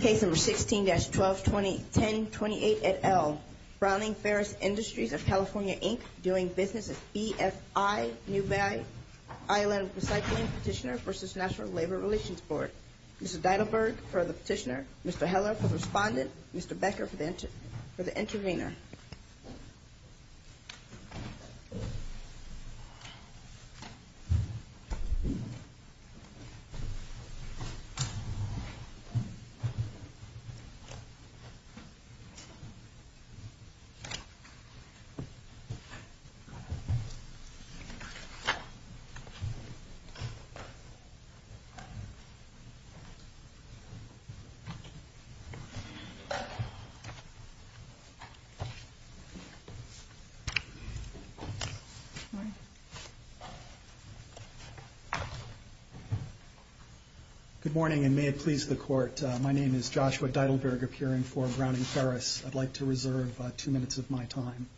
Case No. 16-121028 at L. Browning-Ferris Industries of California, Inc. doing business at BFI New Valley Island Recycling Petitioner v. National Labor Relations Board. Mr. Deidelberg for the petitioner, Mr. Heller for the respondent, Mr. Becker for the intervener. Good morning. Good morning and may it please the court. My name is Joshua Deidelberg appearing for Browning-Ferris. I'd like to reserve two minutes of my time.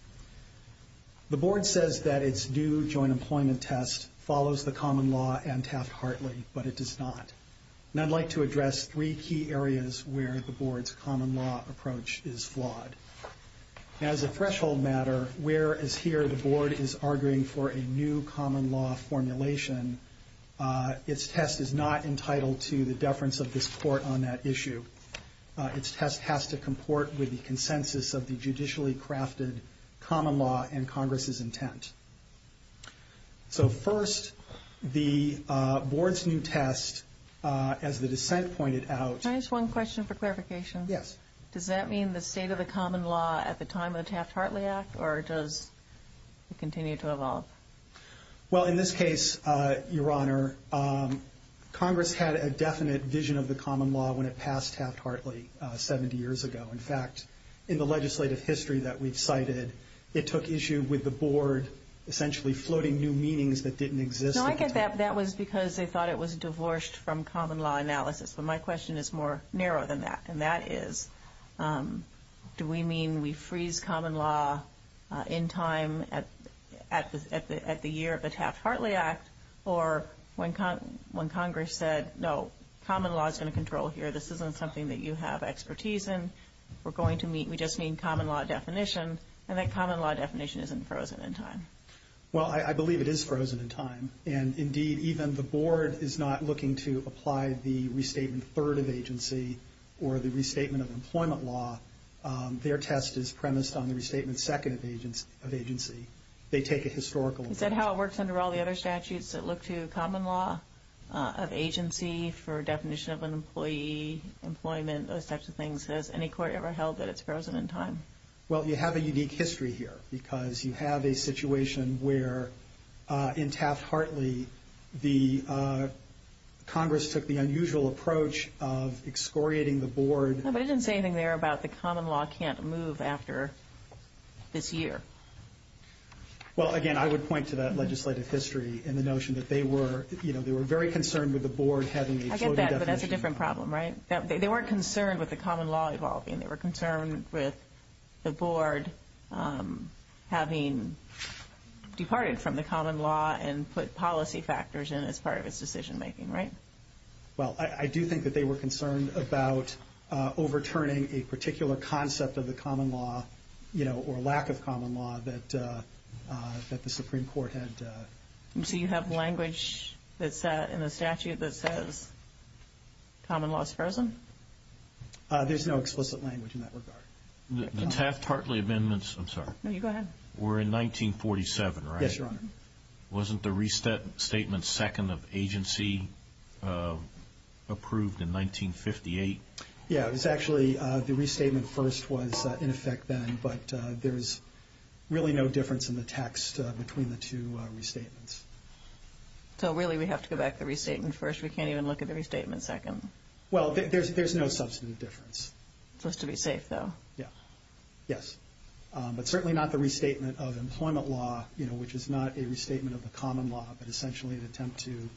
The board says that its new joint employment test follows the common law and task heartily, but it does not. And I'd like to address three key areas where the board's common law approach is flawed. Now, as a threshold matter, whereas here the board is arguing for a new common law formulation, its test is not entitled to the deference of this court on that issue. Its test has to comport with the consensus of the judicially crafted common law and Congress's intent. So first, the board's new test, as the dissent pointed out... Can I ask one question for clarification? Yes. Does that mean the state of the common law at the time of the Taft-Hartley Act or does it continue to evolve? Well, in this case, Your Honor, Congress had a definite vision of the common law when it passed Taft-Hartley 70 years ago. In fact, in the legislative history that we've cited, it took issue with the board essentially floating new meanings that didn't exist. No, I get that. That was because they thought it was divorced from common law analysis. But my question is more narrow than that, and that is, do we mean we freeze common law in time at the year of the Taft-Hartley Act or when Congress said, no, common law is in control here. This isn't something that you have expertise in. We're going to meet. We just need common law definition, and that common law definition isn't frozen in time. Well, I believe it is frozen in time. And indeed, even the board is not looking to apply the restatement third of agency or the restatement of employment law. Their test is premised on the restatement second of agency. They take a historical approach. Is that how it works under all the other statutes that look to common law of agency for definition of an employee, employment, those types of things? Has any court ever held that it's frozen in time? Well, you have a unique history here because you have a situation where in Taft-Hartley, the Congress took the unusual approach of excoriating the board. But it didn't say anything there about the common law can't move after this year. Well, again, I would point to that legislative history and the notion that they were, you know, they were very concerned with the board having a frozen definition. I get that, but that's a different problem, right? They weren't concerned with the common law evolving. They were concerned with the board having departed from the common law and put policy factors in as part of its decision-making, right? Well, I do think that they were concerned about overturning a particular concept of the common law, you know, or lack of common law that the Supreme Court had. And so you have language that's in the statute that says common law is frozen? There's no explicit language in that regard. The Taft-Hartley amendments, I'm sorry. No, you go ahead. Were in 1947, right? Yes, Your Honor. Wasn't the restatement second of agency approved in 1958? Yeah, it was actually the restatement first was in effect then, but there's really no difference in the text between the two restatements. So, really, we have to go back to the restatement first? We can't even look at the restatement second? Well, there's no substantive difference. Just to be safe, though? Yes. But certainly not the restatement of employment law, you know, which is not a restatement of the common law, but essentially an attempt to.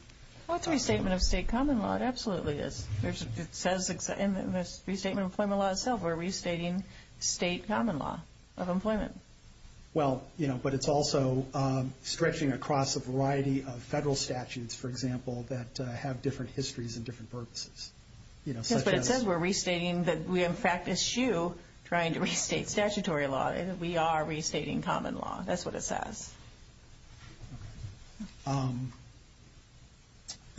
Well, it's a restatement of state common law. It absolutely is. It says in the restatement of employment law itself, we're restating state common law of employment. Well, you know, but it's also stretching across a variety of federal statutes, for example, that have different histories and different purposes. Yes, but it says we're restating that we have practiced you trying to restate statutory law. We are restating common law. That's what it says. Okay.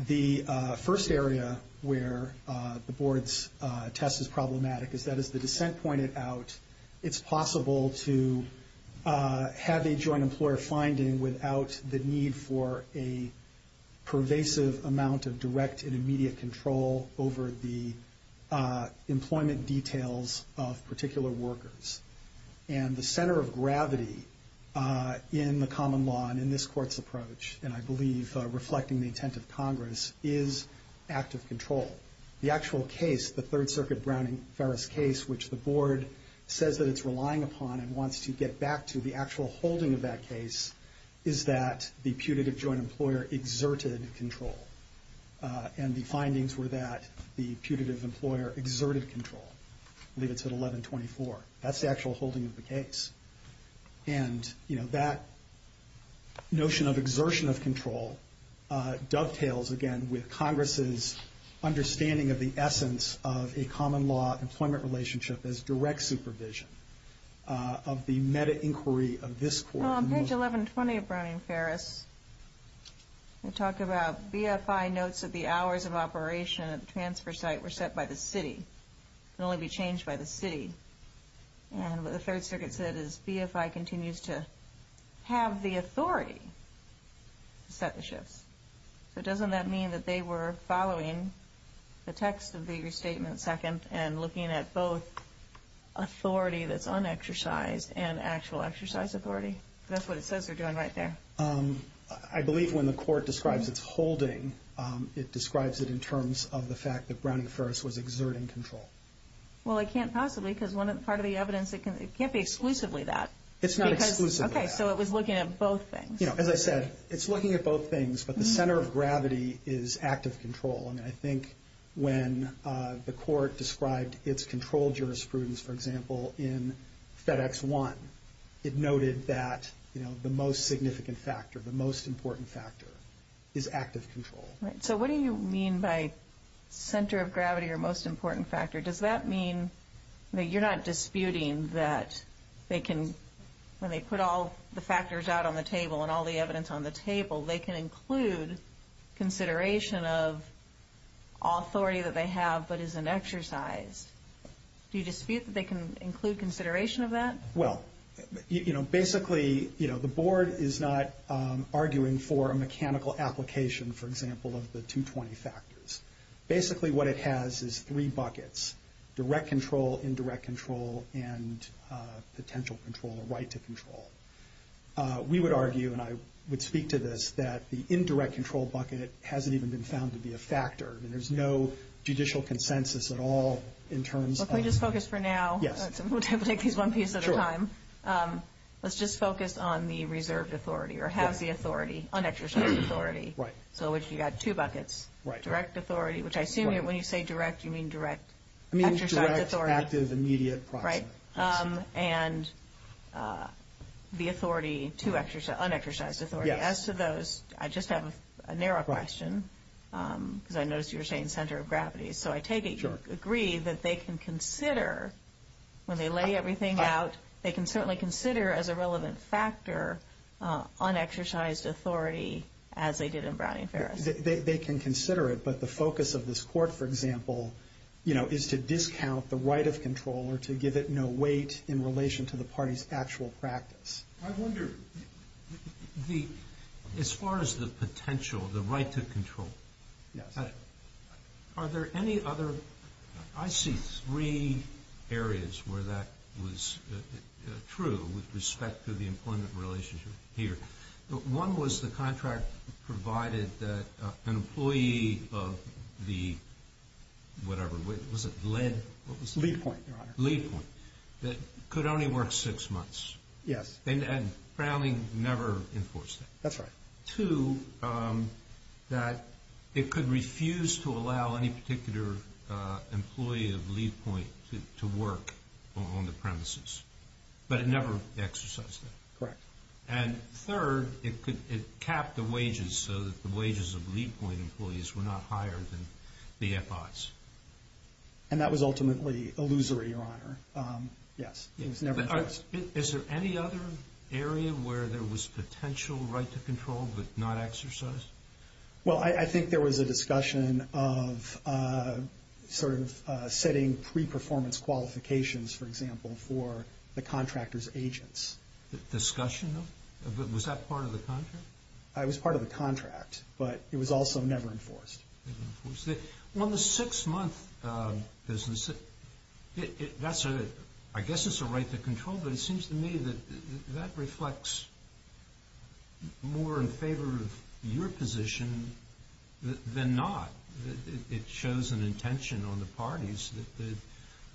The first area where the board's test was problematic is that, as the dissent pointed out, it's possible to have a joint employer finding without the need for a pervasive amount of direct and immediate control over the employment details of particular workers. And the center of gravity in the common law and in this court's approach, and I believe reflecting the intent of Congress, is active control. The actual case, the Third Circuit Browning-Ferris case, which the board says that it's relying upon and wants to get back to the actual holding of that case, is that the putative joint employer exerted control. And the findings were that the putative employer exerted control, I believe it's at 1124. That's the actual holding of the case. And that notion of exertion of control dovetails, again, with Congress's understanding of the essence of a common law employment relationship as direct supervision of the meta-inquiry of this court. Well, on page 1120 of Browning-Ferris, it talked about BFI notes that the hours of operation of the transfer site were set by the city. It can only be changed by the city. And what the Third Circuit said is BFI continues to have the authority to set the shifts. So doesn't that mean that they were following the text of the restatement, second, and looking at both authority that's unexercised and actual exercise authority? That's what it says they're doing right there. I believe when the court describes its holding, it describes it in terms of the fact that Browning-Ferris was exerting control. Well, I can't possibly, because part of the evidence, it can't be exclusively that. It's not exclusively that. Okay, so it was looking at both things. As I said, it's looking at both things, but the center of gravity is active control. And I think when the court described its control jurisprudence, for example, in FedEx 1, it noted that the most significant factor, the most important factor is active control. So what do you mean by center of gravity or most important factor? Does that mean that you're not disputing that they can, when they put all the factors out on the table and all the evidence on the table, they can include consideration of authority that they have, but it's an exercise. Do you dispute that they can include consideration of that? Well, you know, basically, you know, the board is not arguing for a mechanical application, for example, of the 220 factors. Basically what it has is three buckets, direct control, indirect control, and potential control, a right to control. We would argue, and I would speak to this, that the indirect control bucket hasn't even been found to be a factor. There's no judicial consensus at all in terms of. Let me just focus for now. We'll take these one piece at a time. Let's just focus on the reserved authority or have the authority, unexercised authority. So if you've got two buckets, direct authority, which I assume when you say direct, you mean direct. It means direct versus immediate. Right. And the authority to unexercised authority. As to those, I just have a narrow question, because I noticed you were saying center of gravity. So I take it you agree that they can consider, when they lay everything out, they can certainly consider as a relevant factor unexercised authority, as they did in Brown v. Ferris. They can consider it, but the focus of this court, for example, you know, is to discount the right of control or to give it no weight in relation to the party's actual practice. I wonder, as far as the potential, the right to control, are there any other, I see three areas where that was true with respect to the employment relationship here. One was the contract provided that an employee of the whatever, was it lead? Lead point, Your Honor. Lead point, that could only work six months. Yes. And Brown v. never enforced it. That's right. Two, that it could refuse to allow any particular employee of lead point to work on the premises, but it never exercised it. Correct. And third, it capped the wages so that the wages of lead point employees were not higher than the FIs. And that was ultimately illusory, Your Honor. Yes. Is there any other area where there was potential right to control but not exercised? Well, I think there was a discussion of sort of setting pre-performance qualifications, for example, for the contract as agents. Discussion? Was that part of the contract? It was part of the contract, but it was also never enforced. Well, the six-month business, I guess it's a right to control, but it seems to me that that reflects more in favor of your position than not. It shows an intention on the parties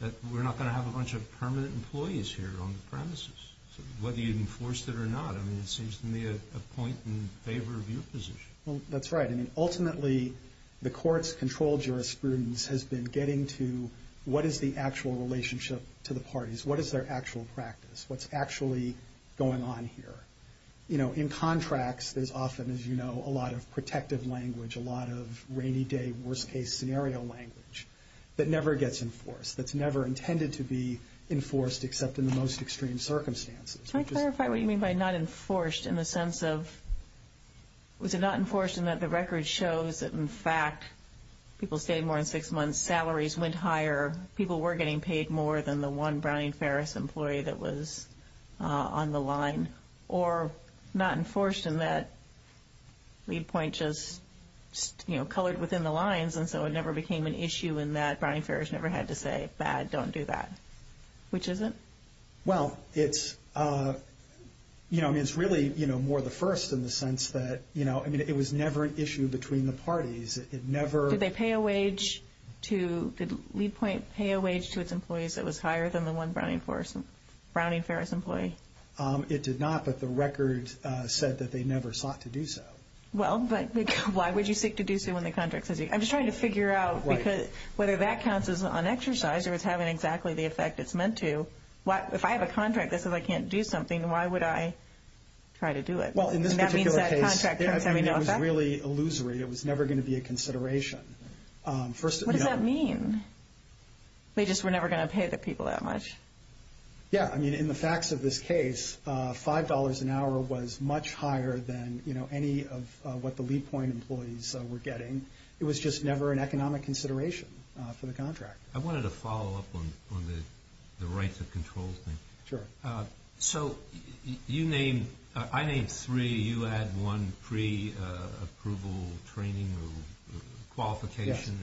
that we're not going to have a bunch of permanent employees here on the premises, whether you enforced it or not. I mean, it seems to me a point in favor of your position. That's right. Ultimately, the court's control jurisprudence has been getting to what is the actual relationship to the parties? What is their actual practice? What's actually going on here? You know, in contracts, there's often, as you know, a lot of protective language, a lot of rainy day, worst-case scenario language that never gets enforced, that's never intended to be enforced except in the most extreme circumstances. Can I clarify what you mean by not enforced in the sense of was it not enforced in that the record shows that, in fact, people stayed more than six months, salaries went higher, people were getting paid more than the one Bryan Ferris employee that was on the line, or not enforced in that lead point just, you know, colored within the lines and so it never became an issue in that Bryan Ferris never had to say, it's bad, don't do that, which is it? Well, it's, you know, it's really, you know, more the first in the sense that, you know, I mean, it was never an issue between the parties. It never... Did they pay a wage to the lead point, pay a wage to its employees that was higher than the one Bryan Ferris employee? It did not, but the record said that they never sought to do so. Well, but why would you seek to do so when the contract says... I'm just trying to figure out whether that counts as an exercise because it was having exactly the effect it's meant to. If I have a contract that says I can't do something, why would I try to do it? Well, in this particular case... That means that contract... I mean, it was really illusory. It was never going to be a consideration. What does that mean? They just were never going to pay the people that much? Yeah, I mean, in the facts of this case, $5 an hour was much higher than, you know, any of what the lead point employees were getting. It was just never an economic consideration for the contract. I wanted to follow up on the right to control thing. Sure. So you named... I named three. You had one pre-approval training or qualification.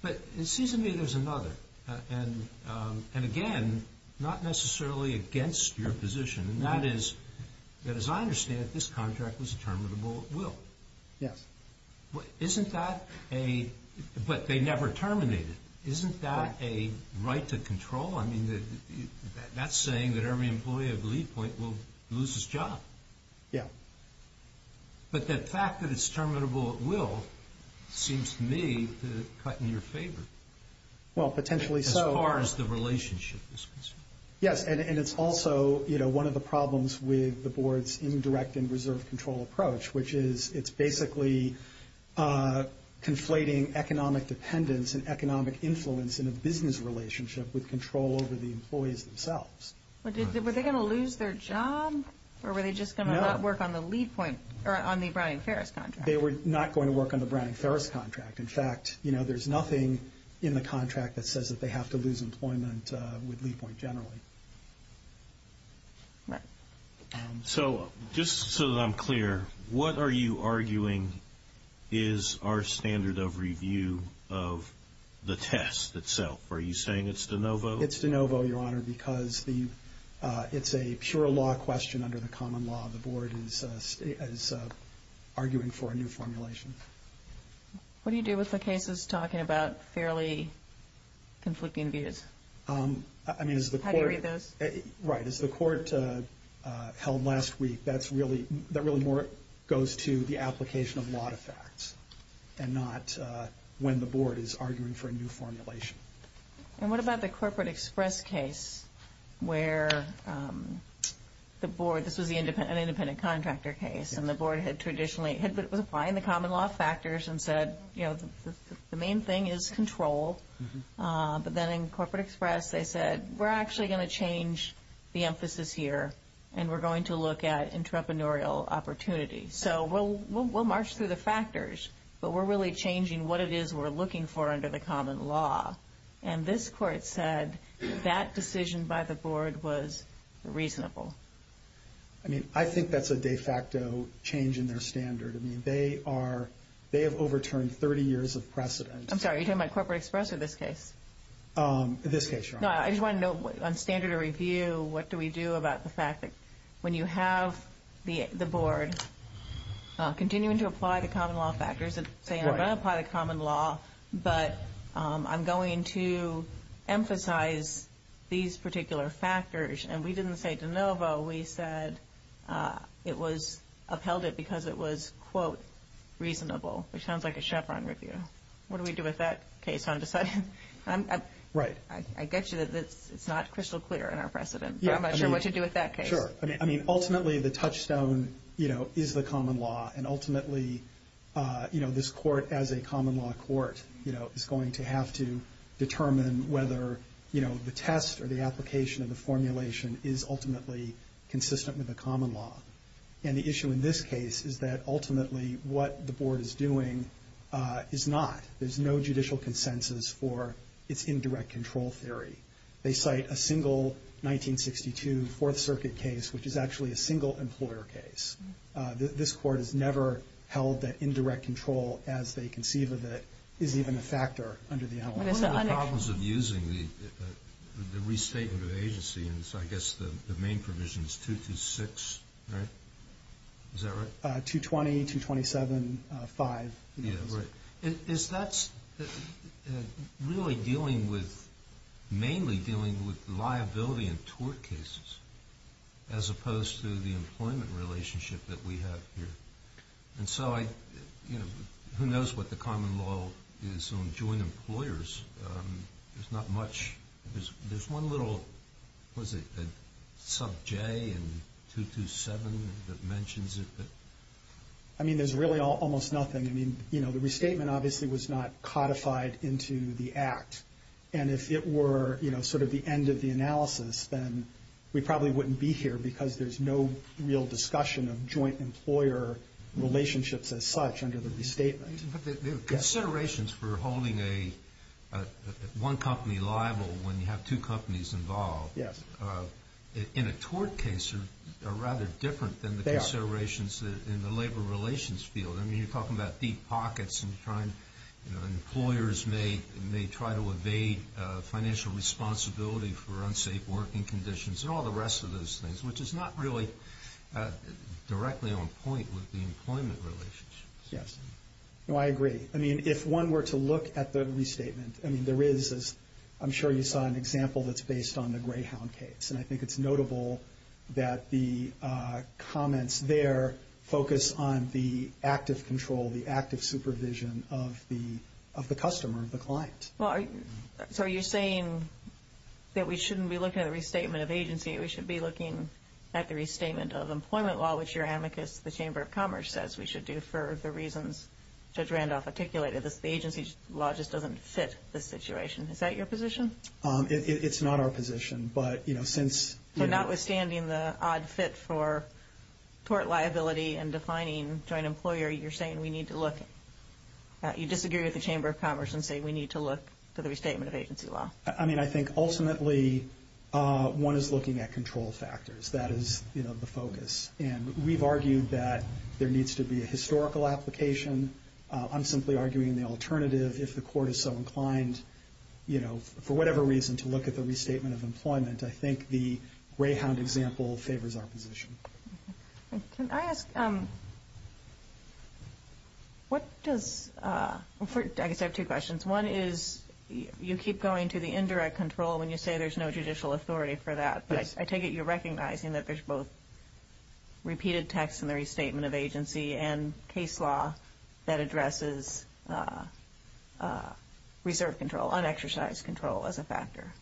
But it seems to me there's another, and again, not necessarily against your position, and that is that, as I understand it, this contract was terminable at will. Yes. Isn't that a... but they never terminate it. Isn't that a right to control? I mean, that's saying that every employee at the lead point will lose his job. Yeah. But the fact that it's terminable at will seems to me to cut in your favor. Well, potentially so. As far as the relationship is concerned. Yes, and it's also, you know, one of the problems with the board's indirect and reserve control approach, which is it's basically conflating economic dependence and economic influence in a business relationship with control over the employees themselves. Were they going to lose their jobs or were they just going to not work on the lead point or on the Browning-Ferris contract? They were not going to work on the Browning-Ferris contract. In fact, you know, there's nothing in the contract that says that they have to lose employment with lead point generally. Right. So, just so that I'm clear, what are you arguing is our standard of review of the test itself? Are you saying it's de novo? It's de novo, Your Honor, because it's a pure law question under the common law. The board is arguing for a new formulation. What do you do with the cases talking about fairly conflicting views? How do you read those? Right. As the court held last week, that really goes to the application of a lot of facts and not when the board is arguing for a new formulation. And what about the Corporate Express case where the board, this was an independent contractor case, and the board had traditionally defined the common law factors and said, you know, the main thing is control. But then in Corporate Express they said, we're actually going to change the emphasis here and we're going to look at entrepreneurial opportunity. So, we'll march through the factors, but we're really changing what it is we're looking for under the common law. And this court said that decision by the board was reasonable. I mean, I think that's a de facto change in their standard. I mean, they have overturned 30 years of precedent. I'm sorry. You're talking about Corporate Express or this case? This case, sure. No, I just wanted to know on standard of review, what do we do about the fact that when you have the board continuing to apply the common law factors, they are going to apply the common law, but I'm going to emphasize these particular factors. And we didn't say de novo. We said it was upheld because it was, quote, reasonable, which sounds like a Chevron review. What do we do with that case? I get you that it's not crystal clear in our precedent, but I'm not sure what you do with that case. Sure. I mean, ultimately the touchstone, you know, is the common law, and ultimately, you know, this court as a common law court, you know, is going to have to determine whether, you know, the test or the application of the formulation is ultimately consistent with the common law. And the issue in this case is that ultimately what the board is doing is not. There's no judicial consensus for its indirect control theory. They cite a single 1962 Fourth Circuit case, which is actually a single employer case. This court has never held that indirect control as they conceive of it is even a factor under the analog. One of the problems of using the restatement of agency, and so I guess the main provision is 226, right? Is that right? 220, 227, 5. Yeah, right. Is that really dealing with mainly dealing with liability and tort cases as opposed to the employment relationship that we have here? And so I, you know, who knows what the common law is on joint employers. There's not much. There's one little, what is it, sub J in 227 that mentions it. I mean, there's really almost nothing. I mean, you know, the restatement obviously was not codified into the act. And if it were, you know, sort of the end of the analysis, then we probably wouldn't be here because there's no real discussion of joint employer relationships as such under the restatement. Considerations for holding one company liable when you have two companies involved in a tort case are rather different than the considerations in the labor relations field. I mean, you're talking about deep pockets and trying, you know, employers may try to evade financial responsibility for unsafe working conditions and all the rest of those things, which is not really directly on point with the employment relationship. Yes. Well, I agree. I mean, if one were to look at the restatement, I mean, there is, I'm sure you saw an example that's based on the Greyhound case. And I think it's notable that the comments there focus on the active control, the active supervision of the customer, of the client. So are you saying that we shouldn't be looking at the restatement of agency? We should be looking at the restatement of employment law, which your amicus, the Chamber of Commerce, says we should do for the reasons that Randolph articulated. The agency's law just doesn't fit the situation. Is that your position? It's not our position, but, you know, since... So notwithstanding the odd fit for tort liability and defining joint employer, you're saying we need to look at... I mean, I think, ultimately, one is looking at control factors. That is, you know, the focus. And we've argued that there needs to be a historical application. I'm simply arguing the alternative. If the court is so inclined, you know, for whatever reason, to look at the restatement of employment, I think the Greyhound example favors our position. Can I ask... What does... I guess I have two questions. One is you keep going to the indirect control when you say there's no judicial authority for that. But I take it you're recognizing that there's both repeated tax summary statement of agency and case law that addresses reserve control, unexercised control as a factor.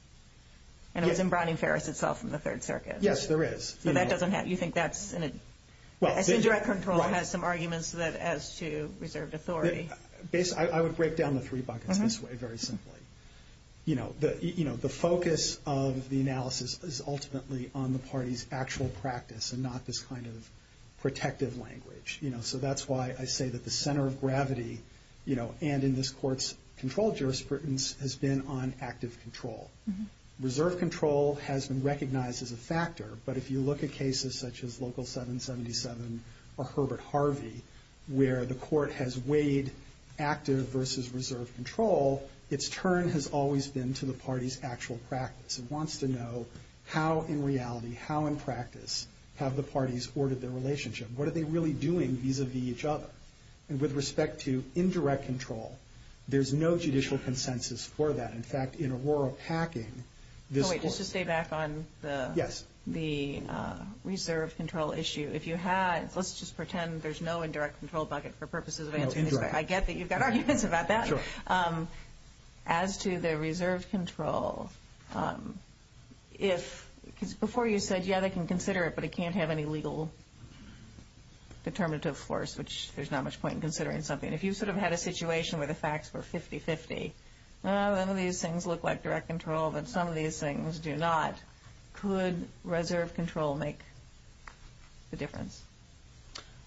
And it's in Brown and Ferris itself in the Third Circuit. Yes, there is. But that doesn't have... You think that's an... Well, this... I think direct control has some arguments as to reserve authority. I would break down the three buckets this way, very simply. You know, the focus of the analysis is ultimately on the party's actual practice and not this kind of protective language. You know, so that's why I say that the center of gravity, you know, and in this court's control jurisprudence has been on active control. Reserve control has been recognized as a factor. But if you look at cases such as Local 777 or Herbert Harvey where the court has weighed active versus reserve control, its turn has always been to the party's actual practice. It wants to know how in reality, how in practice have the parties ordered their relationship? What are they really doing vis-a-vis each other? And with respect to indirect control, there's no judicial consensus for that. In fact, in Aurora Packing, this... Oh, wait. Just to stay back on the... Yes. The reserve control issue, if you had... Let's just pretend there's no indirect control bucket for purposes of answering these. I get that you've got arguments about that. Sure. As to the reserve control, if... Because before you said, yeah, they can consider it, but it can't have any legal determinative force, which there's not much point in considering something. If you sort of had a situation where the facts were 50-50, none of these things look like direct control, but some of these things do not, could reserve control make a difference?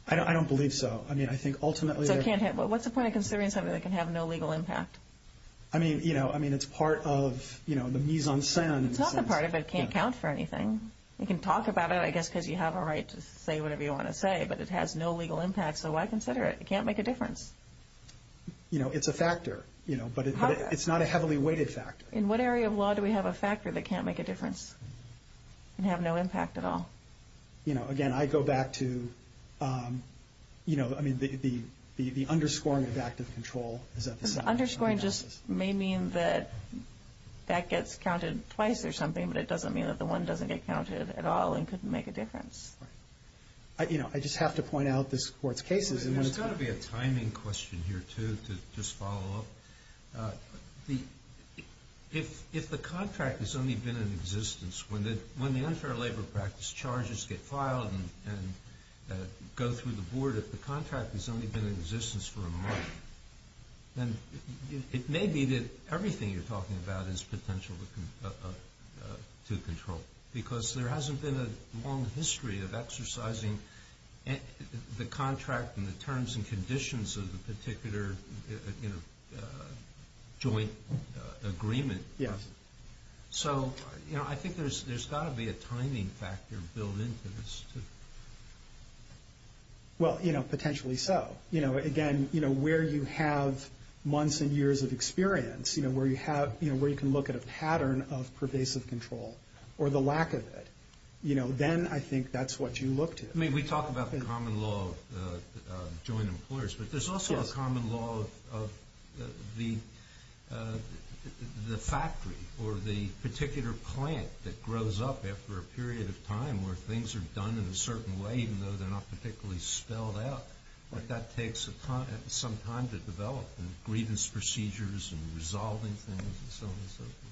I don't believe so. I mean, I think ultimately... So it can't have... What's the point of considering something that can have no legal impact? I mean, you know, I mean, it's part of, you know, the mise-en-scene. It's not the part of it that can't count for anything. You can talk about it, I guess, because you have a right to say whatever you want to say, but it has no legal impact, so why consider it? It can't make a difference. You know, it's a factor, you know, but it's not a heavily weighted factor. In what area of law do we have a factor that can't make a difference and have no impact at all? You know, again, I go back to, you know, I mean, the underscoring of active control. Underscoring just may mean that that gets counted twice or something, but it doesn't mean that the one doesn't get counted at all and couldn't make a difference. You know, I just have to point out this court's cases. There's got to be a timing question here, too, to just follow up. If the contract has only been in existence when the unfair labor practice charges get filed and go through the board, if the contract has only been in existence for a month, then it may be that everything you're talking about is potential to control because there hasn't been a long history of exercising the contract and the terms and conditions of the particular joint agreement. Yeah. So, you know, I think there's got to be a timing factor built into this, too. Well, you know, potentially so. You know, again, you know, where you have months and years of experience, you know, where you can look at a pattern of pervasive control or the lack of it. You know, then I think that's what you look to. I mean, we talk about the common law of joint employers, but there's also a common law of the factory or the particular plant that grows up after a period of time where things are done in a certain way, even though they're not particularly spelled out, but that takes some time to develop the grievance procedures and resolving things and so on and so forth.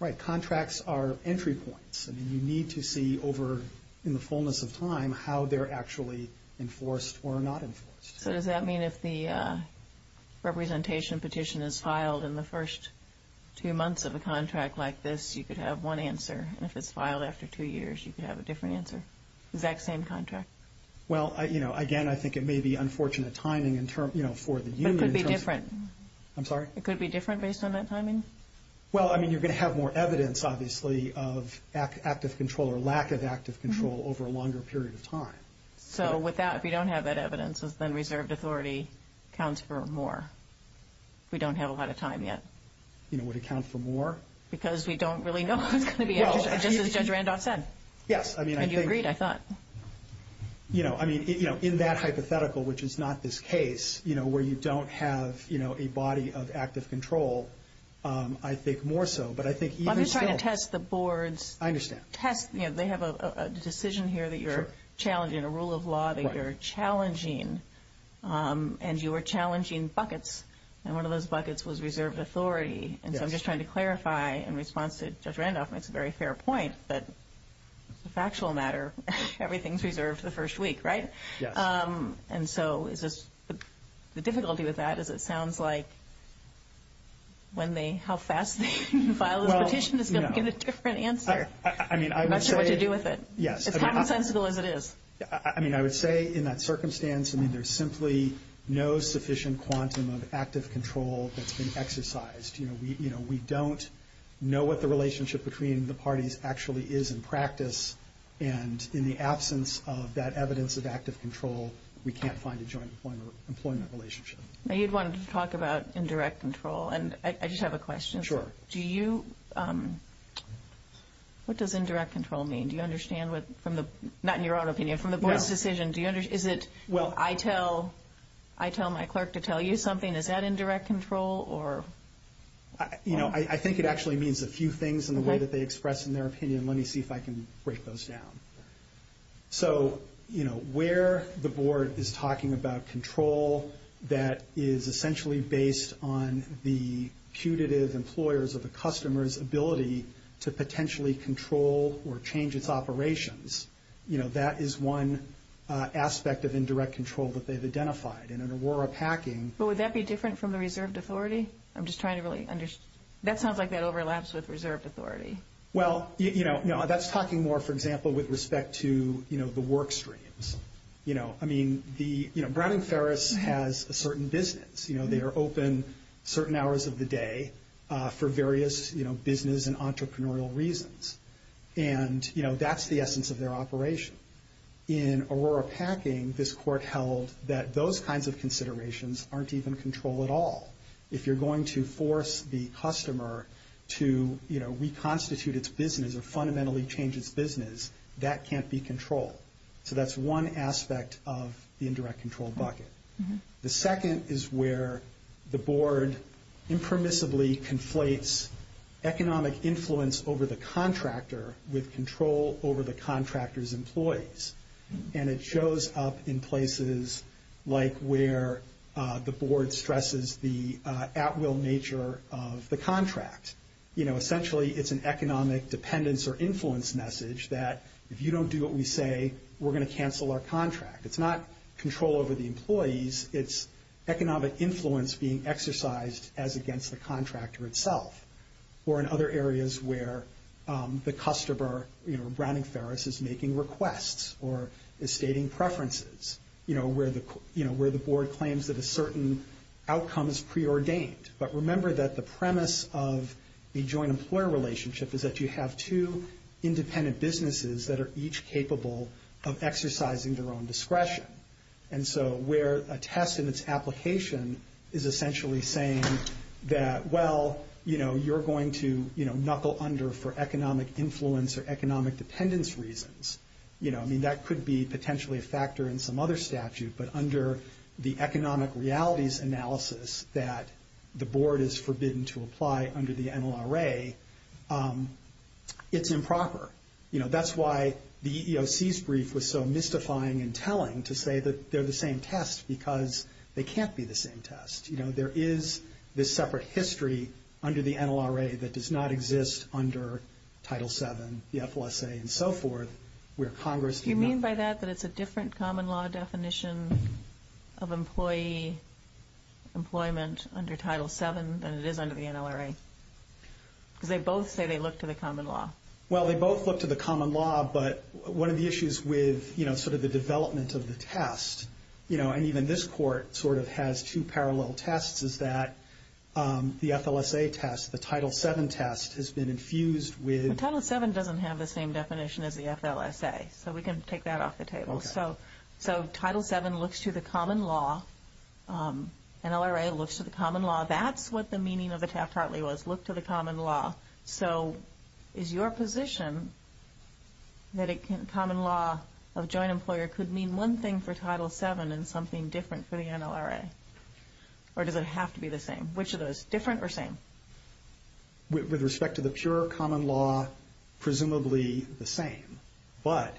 Right. Contracts are entry points, and you need to see over, in the fullness of time, how they're actually enforced or not enforced. So does that mean if the representation petition is filed in the first two months of a contract like this, you could have one answer? If it's filed after two years, you could have a different answer? Exact same contract? Well, you know, again, I think it may be unfortunate timing for the union. It could be different. I'm sorry? It could be different based on that timing? Well, I mean, you're going to have more evidence, obviously, of active control or lack of active control over a longer period of time. So with that, if you don't have that evidence, then reserved authority counts for more. We don't have a lot of time yet. You know, would it count for more? Because we don't really know. Just as Judge Randolph said. Yes. And you agreed, I thought. You know, in that hypothetical, which is not this case, where you don't have a body of active control, I think more so. I'm just trying to test the board's – I understand. They have a decision here that you're challenging, a rule of law that you're challenging, and you were challenging buckets, and one of those buckets was reserved authority. And so I'm just trying to clarify, in response to Judge Randolph, that's a very fair point, but as a factual matter, everything's reserved for the first week, right? Yes. And so the difficulty with that is it sounds like when they – how fast can they file a petition to get a different answer? I mean, I would say – It's not as sensible as it is. I mean, I would say in that circumstance, I mean, there's simply no sufficient quantum of active control that's been exercised. You know, we don't know what the relationship between the parties actually is in practice, and in the absence of that evidence of active control, we can't find a joint employment relationship. Now you'd want to talk about indirect control, and I just have a question. Sure. Do you – what does indirect control mean? Do you understand what – not in your own opinion, from the board's decision, do you – is it, well, I tell my clerk to tell you something, and is that indirect control or – You know, I think it actually means a few things in the way that they express in their opinion, and let me see if I can break those down. So, you know, where the board is talking about control that is essentially based on the putative employer's or the customer's ability to potentially control or change its operations, you know, that is one aspect of indirect control that they've identified. And in Aurora Packing – But would that be different from the reserved authority? I'm just trying to really understand. That sounds like that overlaps with reserved authority. Well, you know, that's talking more, for example, with respect to, you know, the work streams. You know, I mean, the – you know, Brown and Ferris has a certain business. You know, they are open certain hours of the day for various, you know, business and entrepreneurial reasons. And, you know, that's the essence of their operation. In Aurora Packing, this court held that those kinds of considerations aren't even control at all. If you're going to force the customer to, you know, reconstitute its business or fundamentally change its business, that can't be control. So that's one aspect of the indirect control bucket. The second is where the board impermissibly conflates economic influence over the contractor with control over the contractor's employees. And it shows up in places like where the board stresses the at-will nature of the contract. You know, essentially, it's an economic dependence or influence message that if you don't do what we say, we're going to cancel our contract. It's not control over the employees. It's economic influence being exercised as against the contractor itself or in other areas where the customer, you know, Browning Ferris is making requests or is stating preferences. You know, where the board claims that a certain outcome is preordained. But remember that the premise of the joint employer relationship is that you have two independent businesses that are each capable of exercising their own discretion. Well, you know, you're going to, you know, knuckle under for economic influence or economic dependence reasons. You know, I mean, that could be potentially a factor in some other statute. But under the economic realities analysis that the board is forbidden to apply under the NLRA, it's improper. You know, that's why the EEOC's brief was so mystifying and telling to say that they're the same test because they can't be the same test. You know, there is this separate history under the NLRA that does not exist under Title VII, the FOSA, and so forth. Do you mean by that that it's a different common law definition of employee employment under Title VII than it is under the NLRA? Because they both say they look to the common law. Well, they both look to the common law, but one of the issues with, you know, sort of the development of the test, you know, and even this court sort of has two parallel tests, is that the FLSA test, the Title VII test, has been infused with. Title VII doesn't have the same definition as the FLSA. So we can take that off the table. Okay. So Title VII looks to the common law. NLRA looks to the common law. That's what the meaning of the test partly was, look to the common law. So is your position that a common law of joint employer could mean one thing for Title VII and something different for the NLRA? Or does it have to be the same? Which of those, different or same? With respect to the pure common law, presumably the same. But,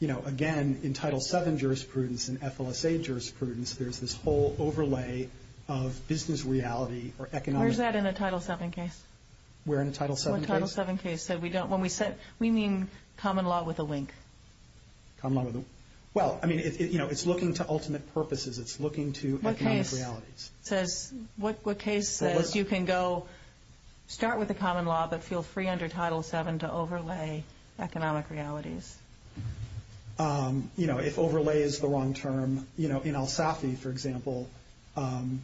you know, again, in Title VII jurisprudence and FLSA jurisprudence, there's this whole overlay of business reality or economic – Where's that in the Title VII case? Where in the Title VII case? The Title VII case. So we don't – when we say – we mean common law with a wink. Common – well, I mean, you know, it's looking to ultimate purposes, it's looking to economic realities. What case says you can go start with the common law but feel free under Title VII to overlay economic realities? You know, if overlay is the wrong term, you know, in El Safi, for example,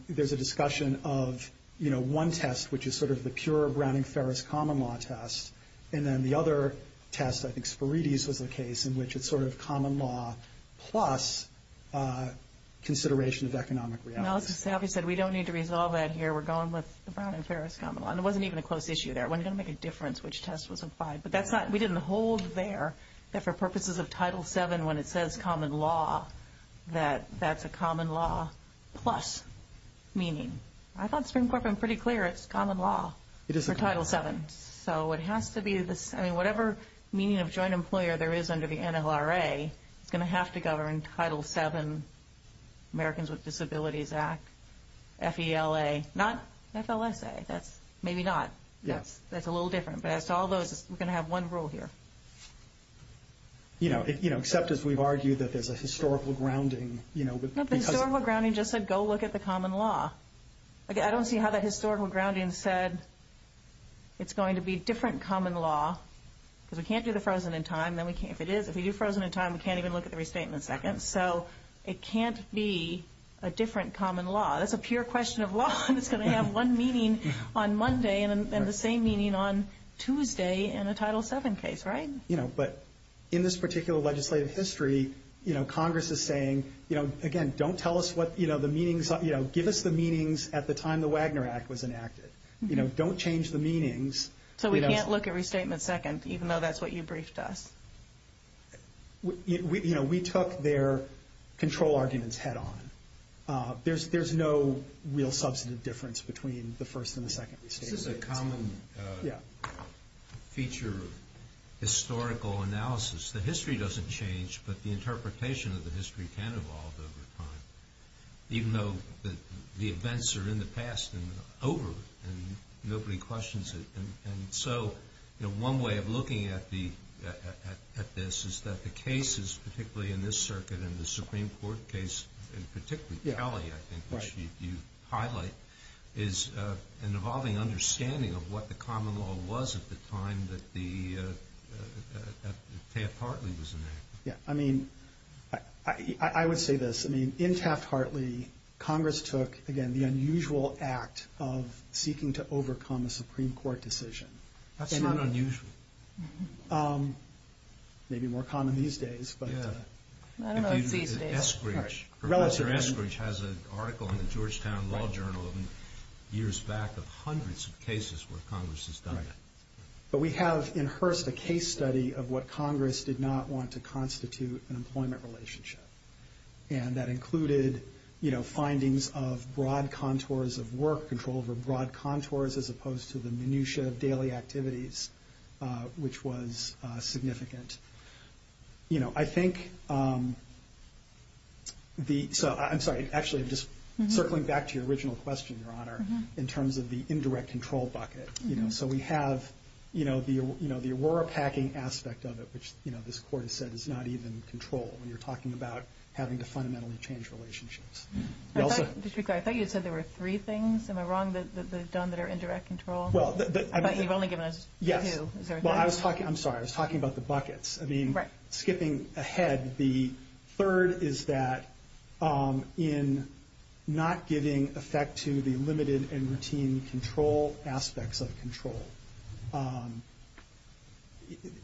there's a discussion of, you know, one test, which is sort of the pure Browning-Ferris common law test, and then the other test, I think Spirides was the case, in which it's sort of common law plus consideration of economic realities. El Safi said we don't need to resolve that here. We're going with Browning-Ferris common law. And it wasn't even a close issue there. It wouldn't make a difference which test was applied. But that's not – we didn't hold there that for purposes of Title VII, when it says common law, that that's a common law plus meaning. I thought Supreme Court been pretty clear it's common law for Title VII. So it has to be – I mean, whatever meaning of joint employer there is under the NLRA is going to have to govern Title VII, Americans with Disabilities Act, FELA, not FLSA. Maybe not. That's a little different. But it's all those – we're going to have one rule here. You know, except as we've argued that there's a historical grounding, you know. Historical grounding just said go look at the common law. I don't see how that historical grounding said it's going to be different common law. Because we can't do the frozen in time. If it is, if we do frozen in time, we can't even look at the restatement seconds. So it can't be a different common law. That's a pure question of law. It's going to have one meaning on Monday and the same meaning on Tuesday in the Title VII case, right? You know, but in this particular legislative history, you know, Congress is saying, you know, again, don't tell us what, you know, the meanings – you know, give us the meanings at the time the Wagner Act was enacted. You know, don't change the meanings. So we can't look at restatement seconds even though that's what you briefed us. You know, we took their control arguments head on. There's no real substantive difference between the first and the second restatement. This is a common feature of historical analysis. The history doesn't change, but the interpretation of the history can evolve over time. Even though the events are in the past and over and nobody questions it. And so, you know, one way of looking at this is that the cases, particularly in this circuit and the Supreme Court case, and particularly Talley, I think, which you highlight, is an evolving understanding of what the common law was at the time that Taft-Hartley was enacted. Yeah, I mean, I would say this. I mean, in Taft-Hartley, Congress took, again, the unusual act of seeking to overcome a Supreme Court decision. That's not unusual. Maybe more common these days. I don't know if these days. Professor Eskridge has an article in the Georgetown Law Journal years back of hundreds of cases where Congress has done it. But we have in hearse a case study of what Congress did not want to constitute an employment relationship, and that included, you know, findings of broad contours of work, control over broad contours, as opposed to the minutiae of daily activities, which was significant. You know, I think the – so, I'm sorry, actually, just circling back to your original question, Your Honor, in terms of the indirect control bucket. So we have, you know, the Aurora Packing aspect of it, which, you know, this Court has said is not even control. You're talking about having to fundamentally change relationships. Just to be clear, I thought you said there were three things. Am I wrong that those are done that are indirect control? I thought you've only given us two. Well, I was talking – I'm sorry. I was talking about the buckets. I mean, skipping ahead, the third is that in not giving effect to the limited and routine control aspects of control.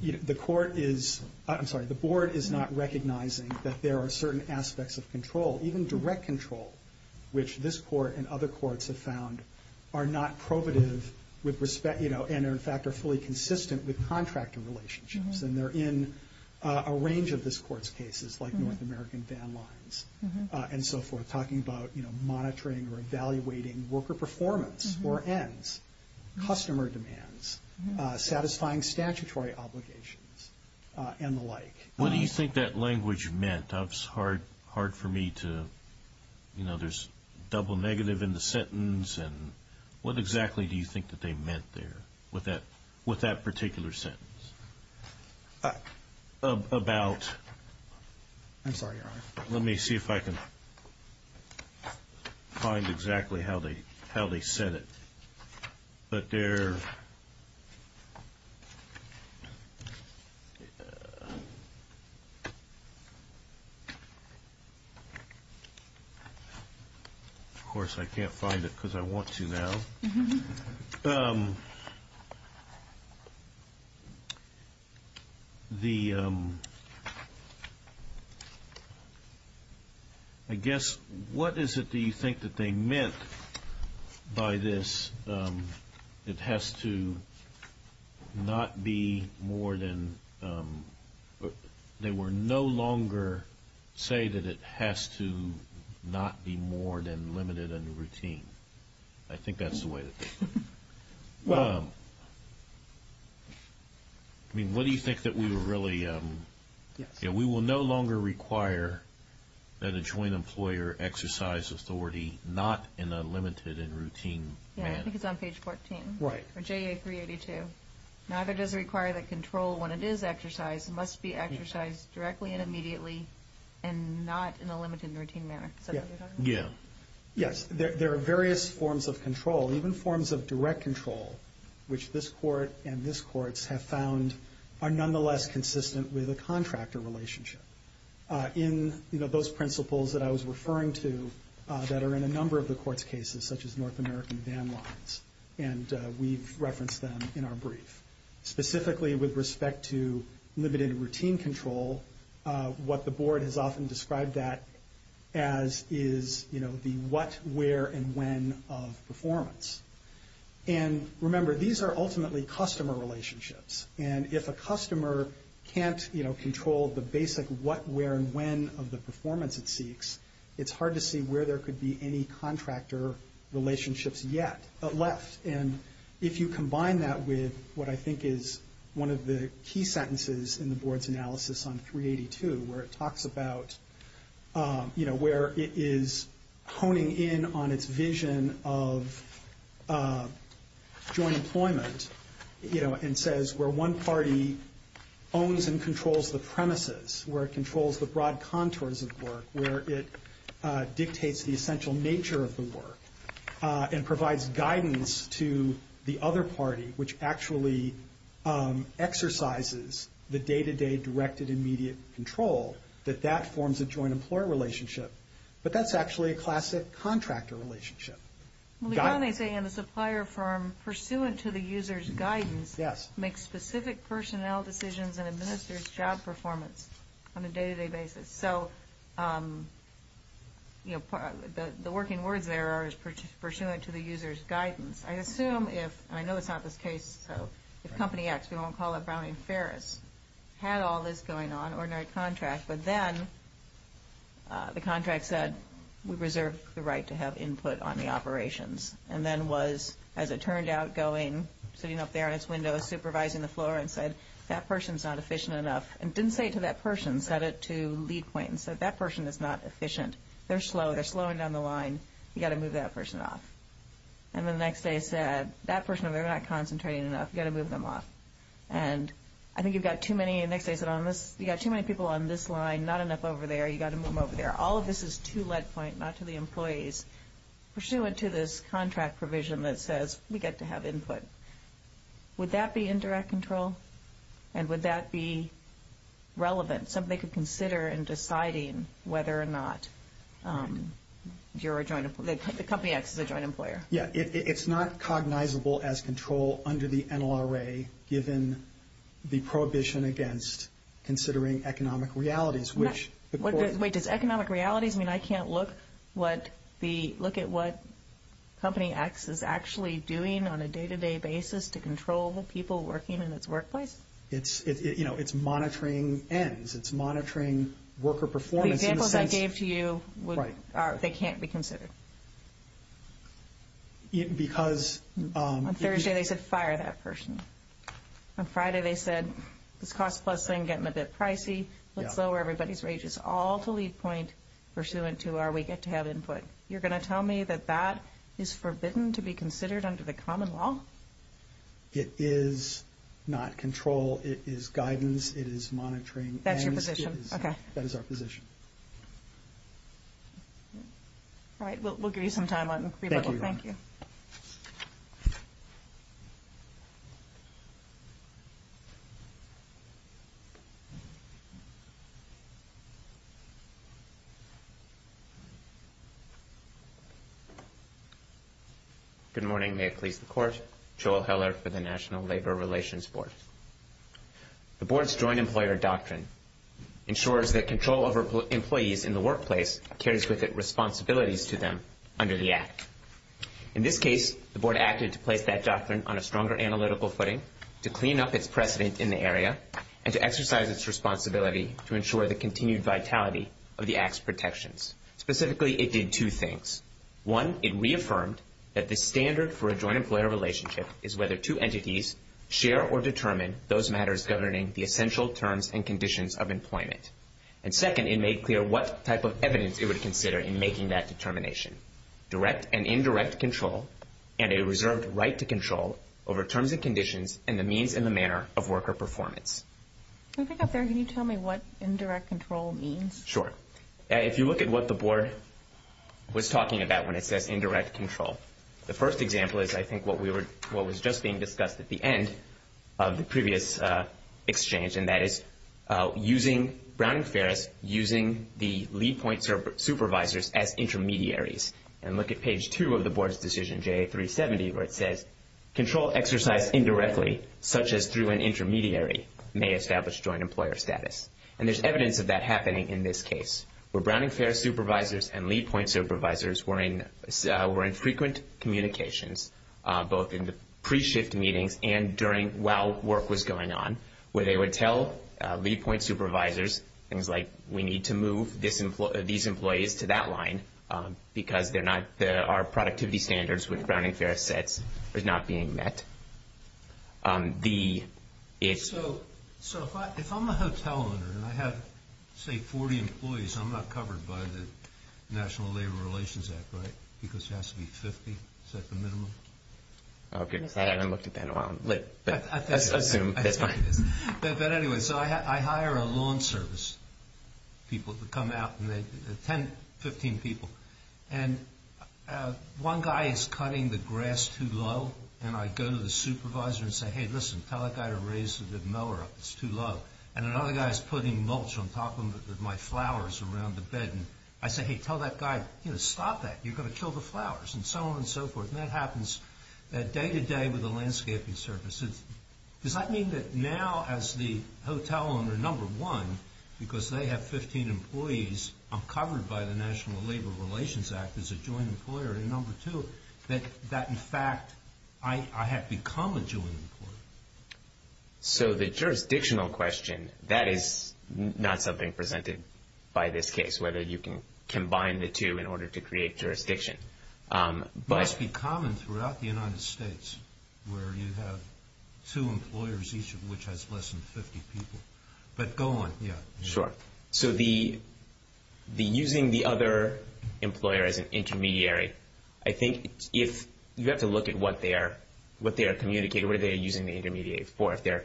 You know, the Court is – I'm sorry. The Board is not recognizing that there are certain aspects of control, even direct control, which this Court and other courts have found are not probative with respect – you know, and, in fact, are fully consistent with contractor relationships. And they're in a range of this Court's cases, like North American ban lines and so forth, talking about, you know, monitoring or evaluating worker performance or ends, customer demands, satisfying statutory obligations, and the like. What do you think that language meant? That was hard for me to – you know, there's double negative in the sentence, and what exactly do you think that they meant there with that particular sentence? About? I'm sorry. Let me see if I can find exactly how they said it. But they're – of course, I can't find it because I want to now. The – I guess, what is it that you think that they meant by this? It has to not be more than – they were no longer saying that it has to not be more than limited and routine. I think that's the way it is. Well, I mean, what do you think that we really – we will no longer require that a joint employer exercise authority not in a limited and routine manner. Yeah, I think it's on page 14. Right. Or JA 382. Matter does require that control, when it is exercised, must be exercised directly and immediately and not in a limited and routine manner. Yeah. Yes. There are various forms of control, even forms of direct control, which this court and this court have found are nonetheless consistent with a contractor relationship. In those principles that I was referring to that are in a number of the court's cases, such as North American Van Lines, and we've referenced them in our brief. Specifically, with respect to limited and routine control, what the board has often described that as is, you know, the what, where, and when of performance. And remember, these are ultimately customer relationships. And if a customer can't, you know, control the basic what, where, and when of the performance it seeks, it's hard to see where there could be any contractor relationships yet, but less. And if you combine that with what I think is one of the key sentences in the board's analysis on 382, where it talks about, you know, where it is honing in on its vision of joint employment, you know, and says where one party owns and controls the premises, where it controls the broad contours of work, where it dictates the essential nature of the work and provides guidance to the other party, which actually exercises the day-to-day directed immediate control, that that forms a joint employer relationship. But that's actually a classic contractor relationship. The only thing in the supplier firm pursuant to the user's guidance makes specific personnel decisions and administers job performance on a day-to-day basis. So, you know, the working word there is pursuant to the user's guidance. I assume if, and I know it's not this case, so if Company X, we won't call it Browning Ferris, had all this going on, ordinary contracts, but then the contract said we reserve the right to have input on the operations and then was, as it turned out, going, sitting up there in its window, supervising the floor and said that person's not efficient enough and didn't say it to that person, said it to lead point, and said that person is not efficient, they're slow, they're slowing down the line, you've got to move that person off. And then the next day it said, that person, they're not concentrating enough, you've got to move them off. And I think you've got too many, and the next day it said on this, you've got too many people on this line, not enough over there, you've got to move them over there. All of this is to lead point, not to the employees. Pursuant to this contract provision that says we get to have input, would that be indirect control and would that be relevant, something they could consider in deciding whether or not the company X is a joint employer? It's not cognizable as control under the NLRA, given the prohibition against considering economic realities. Wait, does economic realities mean I can't look at what company X is actually doing on a day-to-day basis to control the people working in its workplace? It's monitoring ends, it's monitoring worker performance. The examples I gave to you, they can't be considered. On Thursday they said, fire that person. On Friday they said, the cost plus thing is getting a bit pricey, let's lower everybody's wages. All to lead point pursuant to are we get to have input. You're going to tell me that that is forbidden to be considered under the common law? It is not control, it is guidance, it is monitoring. That's your position? Okay. That is our position. All right, we'll give you some time. Thank you. Good morning, may it please the Court. Joel Heller for the National Labor Relations Board. The Board's joint employer doctrine ensures that control over employees in the workplace carries with it responsibilities to them under the Act. In this case, the Board acted to place that doctrine on a stronger analytical footing to clean up its precedent in the area and to exercise its responsibility to ensure the continued vitality of the Act's protections. Specifically, it did two things. One, it reaffirmed that the standard for a joint employer relationship is whether two entities share or determine those matters governing the essential terms and conditions of employment. And second, it made clear what type of evidence it would consider in making that determination, direct and indirect control and a reserved right to control over terms and conditions and the means and the manner of worker performance. Can you tell me what indirect control means? Sure. If you look at what the Board was talking about when it said indirect control, the first example is, I think, what was just being discussed at the end of the previous exchange, and that is using Browning-Ferris, using the lead point supervisors as intermediaries. And look at page 2 of the Board's decision, JA370, where it says, control exercise indirectly, such as through an intermediary, may establish joint employer status. And there's evidence of that happening in this case. Browning-Ferris supervisors and lead point supervisors were in frequent communications, both in the pre-shift meetings and while work was going on, where they would tell lead point supervisors things like, we need to move these employees to that line because they're not our productivity standards, which Browning-Ferris said was not being met. So if I'm the hotel owner and I have, say, 40 employees, I'm not covered by the National Labor Relations Act, right, because there has to be 50? Is that the minimum? Okay. I haven't looked at that in a while. But anyway, so I hire a lawn service people to come out, and there's 10, 15 people. And one guy is cutting the grass too low, and I go to the supervisor and say, hey, listen, tell that guy to raise the mower up. It's too low. And another guy is putting mulch on top of my flowers around the bed. And I say, hey, tell that guy, you know, stop that. You're going to kill the flowers, and so on and so forth. And that happens day to day with the landscaping services. Does that mean that now, as the hotel owner number one, because they have 15 employees uncovered by the National Labor Relations Act as a joint employer, and number two, that in fact I have become a joint employer? So the jurisdictional question, that is not something presented by this case, whether you can combine the two in order to create jurisdiction. It must be common throughout the United States, where you have two employers, each of which has less than 50 people. But go on. Sure. So using the other employer as an intermediary, I think if you have to look at what they are communicating, what are they using the intermediary for? If they're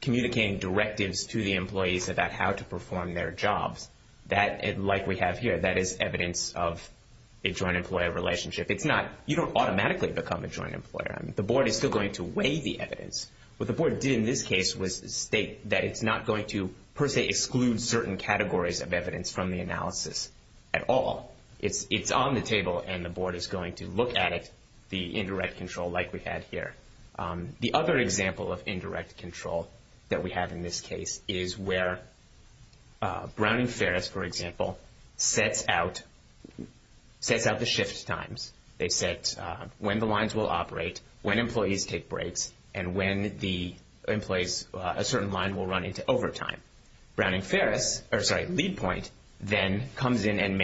communicating directives to the employees about how to perform their jobs, like we have here, that is evidence of a joint employer relationship. You don't automatically become a joint employer. The board is still going to weigh the evidence. What the board did in this case was state that it's not going to per se exclude certain categories of evidence from the analysis at all. It's on the table, and the board is going to look at it, the indirect control like we had here. The other example of indirect control that we have in this case is where Brown and Ferris, for example, set out the shift times. They set when the lines will operate, when employees take breaks, and when a certain line will run into overtime. LeadPoint then comes in and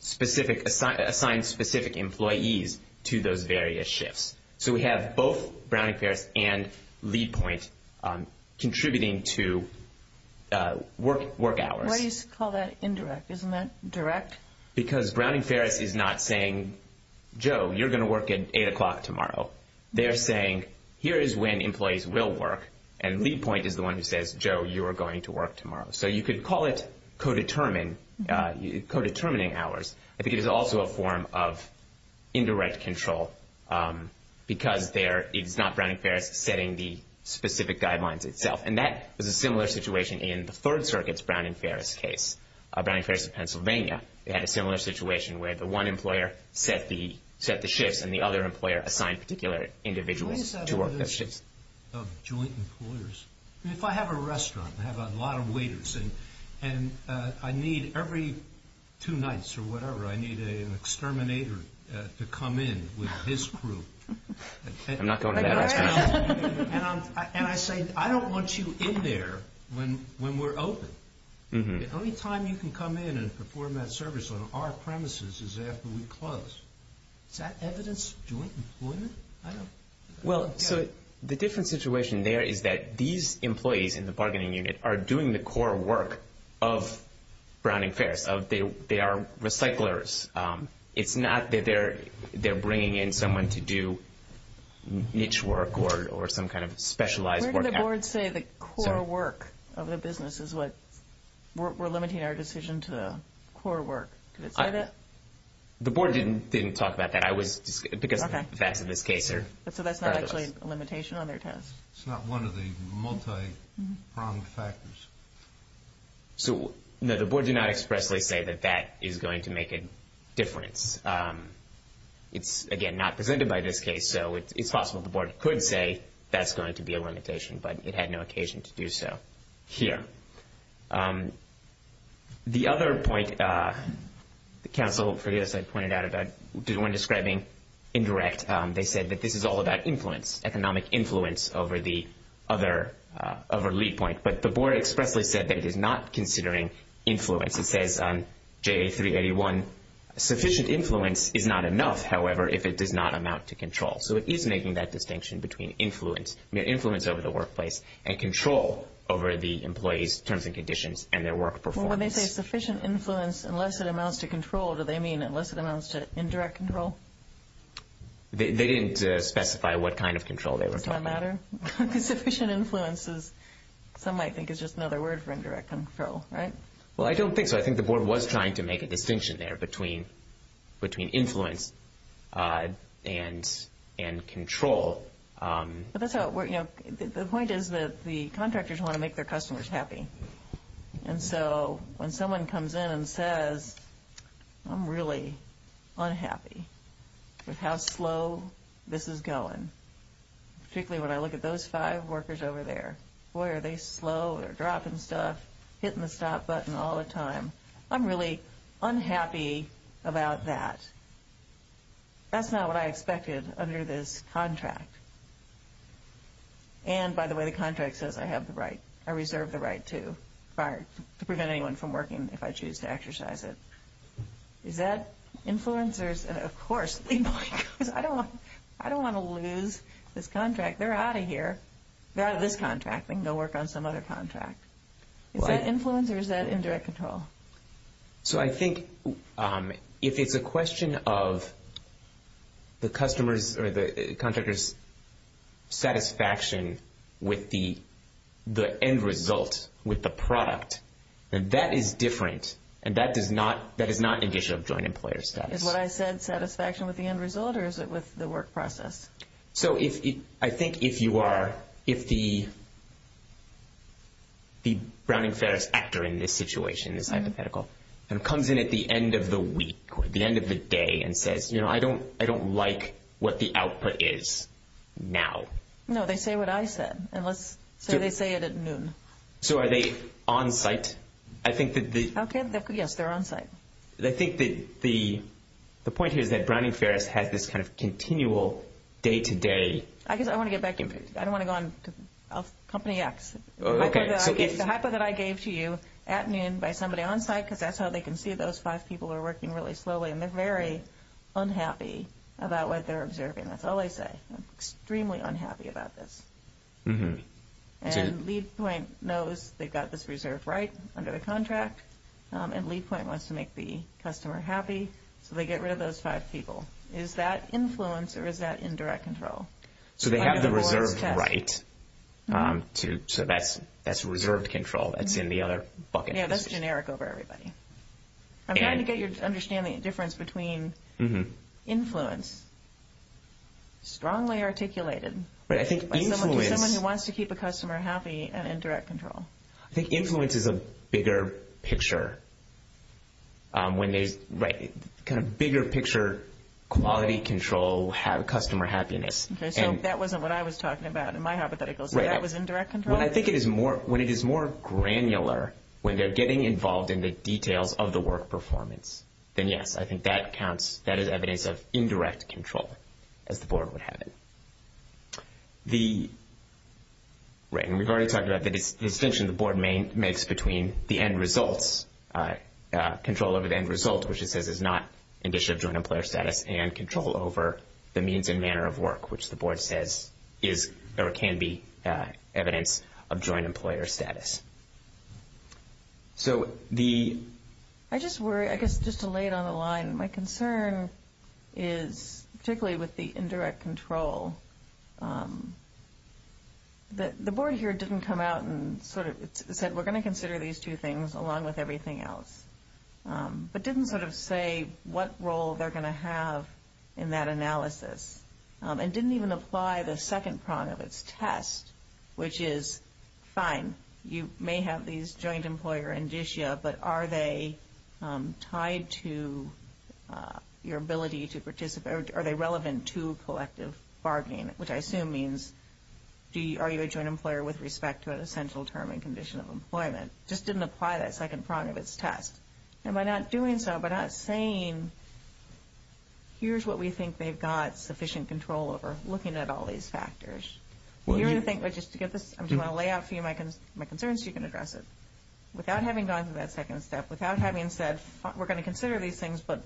assigns specific employees to those various shifts. So we have both Brown and Ferris and LeadPoint contributing to work hours. Why do you call that indirect? Isn't that direct? Because Brown and Ferris is not saying, Joe, you're going to work at 8 o'clock tomorrow. They're saying, here is when employees will work, and LeadPoint is the one who says, Joe, you are going to work tomorrow. So you could call it co-determining hours. I think it is also a form of indirect control because it's not Brown and Ferris setting the specific guidelines itself. And that is a similar situation in the Third Circuit's Brown and Ferris case, they had a similar situation where the one employer set the shift and the other employer assigned a particular individual to work that shift. What is that relationship of joint employers? If I have a restaurant and I have a lot of waiters and I need every two nights or whatever, I need an exterminator to come in with his crew. I'm not going to that restaurant. And I say, I don't want you in there when we're open. The only time you can come in and perform that service on our premises is after we close. Is that evidence of joint employment? Well, the different situation there is that these employees in the bargaining unit are doing the core work of Brown and Ferris. They are recyclers. It's not that they're bringing in someone to do niche work or some kind of specialized work. Where did the board say the core work of the business is what we're limiting our decision to the core work? Did it say that? The board didn't talk about that because that's in this case here. So that's not actually a limitation on their test? It's not one of the multi-pronged factors. So, no, the board did not expressly say that that is going to make a difference. It's, again, not presented by this case. So it's possible the board could say that's going to be a limitation, but it had no occasion to do so here. The other point, the council, as I pointed out, is when describing indirect, they said that this is all about influence, economic influence over the other lead point. But the board expressly said that it is not considering influence. It says on JA381, sufficient influence is not enough, however, if it does not amount to control. So it is making that distinction between influence over the workplace and control over the employee's terms and conditions and their work performance. Well, when they say sufficient influence unless it amounts to control, do they mean unless it amounts to indirect control? They didn't specify what kind of control they were talking about. Does that matter? Sufficient influence is, some might think, is just another word for indirect control, right? Well, I don't think so. I think the board was trying to make a distinction there between influence and control. The point is that the contractors want to make their customers happy. And so when someone comes in and says, I'm really unhappy with how slow this is going, particularly when I look at those five workers over there. Boy, are they slow, they're dropping stuff, hitting the stop button all the time. I'm really unhappy about that. That's not what I expected under this contract. And, by the way, the contract says I have the right, I reserve the right to, to prevent anyone from working if I choose to exercise it. Is that influence? Of course, I don't want to lose this contract. They're out of here. They're out of this contract. I think they'll work on some other contract. Is that influence or is that indirect control? So I think if it's a question of the customer's or the contractor's satisfaction with the end result, with the product, then that is different. And that is not an issue of joint employer satisfaction. Is what I said satisfaction with the end result or is it with the work process? So I think if you are, if the Browning-Ferris actor in this situation is hypothetical and comes in at the end of the week or the end of the day and says, you know, I don't like what the output is now. No, they say what I said. So they say it at noon. So are they on site? Okay, yes, they're on site. I think the point here is that Browning-Ferris has this kind of continual day-to-day. I don't want to get back into this. I don't want to go on Company X. Okay. It's a haphazard I gave to you at noon by somebody on site because that's how they can see those five people are working really slowly and they're very unhappy about what they're observing. That's all they say. Extremely unhappy about this. And LeadPoint knows they've got this reserved right under the contract and LeadPoint wants to make the customer happy. So they get rid of those five people. Is that influence or is that indirect control? So they have the reserved right. So that's reserved control. That's in the other bucket list. Yeah, that's generic over everybody. I'm trying to get your understanding of the difference between influence, strongly articulated by someone who wants to keep a customer happy and indirect control. I think influence is a bigger picture. Right. Kind of bigger picture quality control, have customer happiness. Okay. So that wasn't what I was talking about in my hypothetical. So that was indirect control? Well, I think when it is more granular, when they're getting involved in the details of the work performance, then, yes, I think that counts. That is evidence of indirect control as the board would have it. Right. And we've already talked about the distinction the board makes between the end results, control over the end results, which it says is not an issue of joint employer status, and control over the means and manner of work, which the board says there can be evidence of joint employer status. So the... I just worry, I guess just to lay it on the line, my concern is particularly with the indirect control. The board here didn't come out and sort of said, we're going to consider these two things along with everything else, but didn't sort of say what role they're going to have in that analysis and didn't even apply the second part of its test, which is, fine, you may have these joint employer indicia, but are they tied to your ability to participate, or are they relevant to collective bargaining, which I assume means are you a joint employer with respect to an essential term and condition of employment? Just didn't apply that second part of its test. And by not doing so, by not saying, here's what we think they've got sufficient control over, looking at all these factors, we're going to think, well, just to get the... I just want to lay out for you my concerns so you can address it. Without having gone through that second step, without having said, we're going to consider these things, but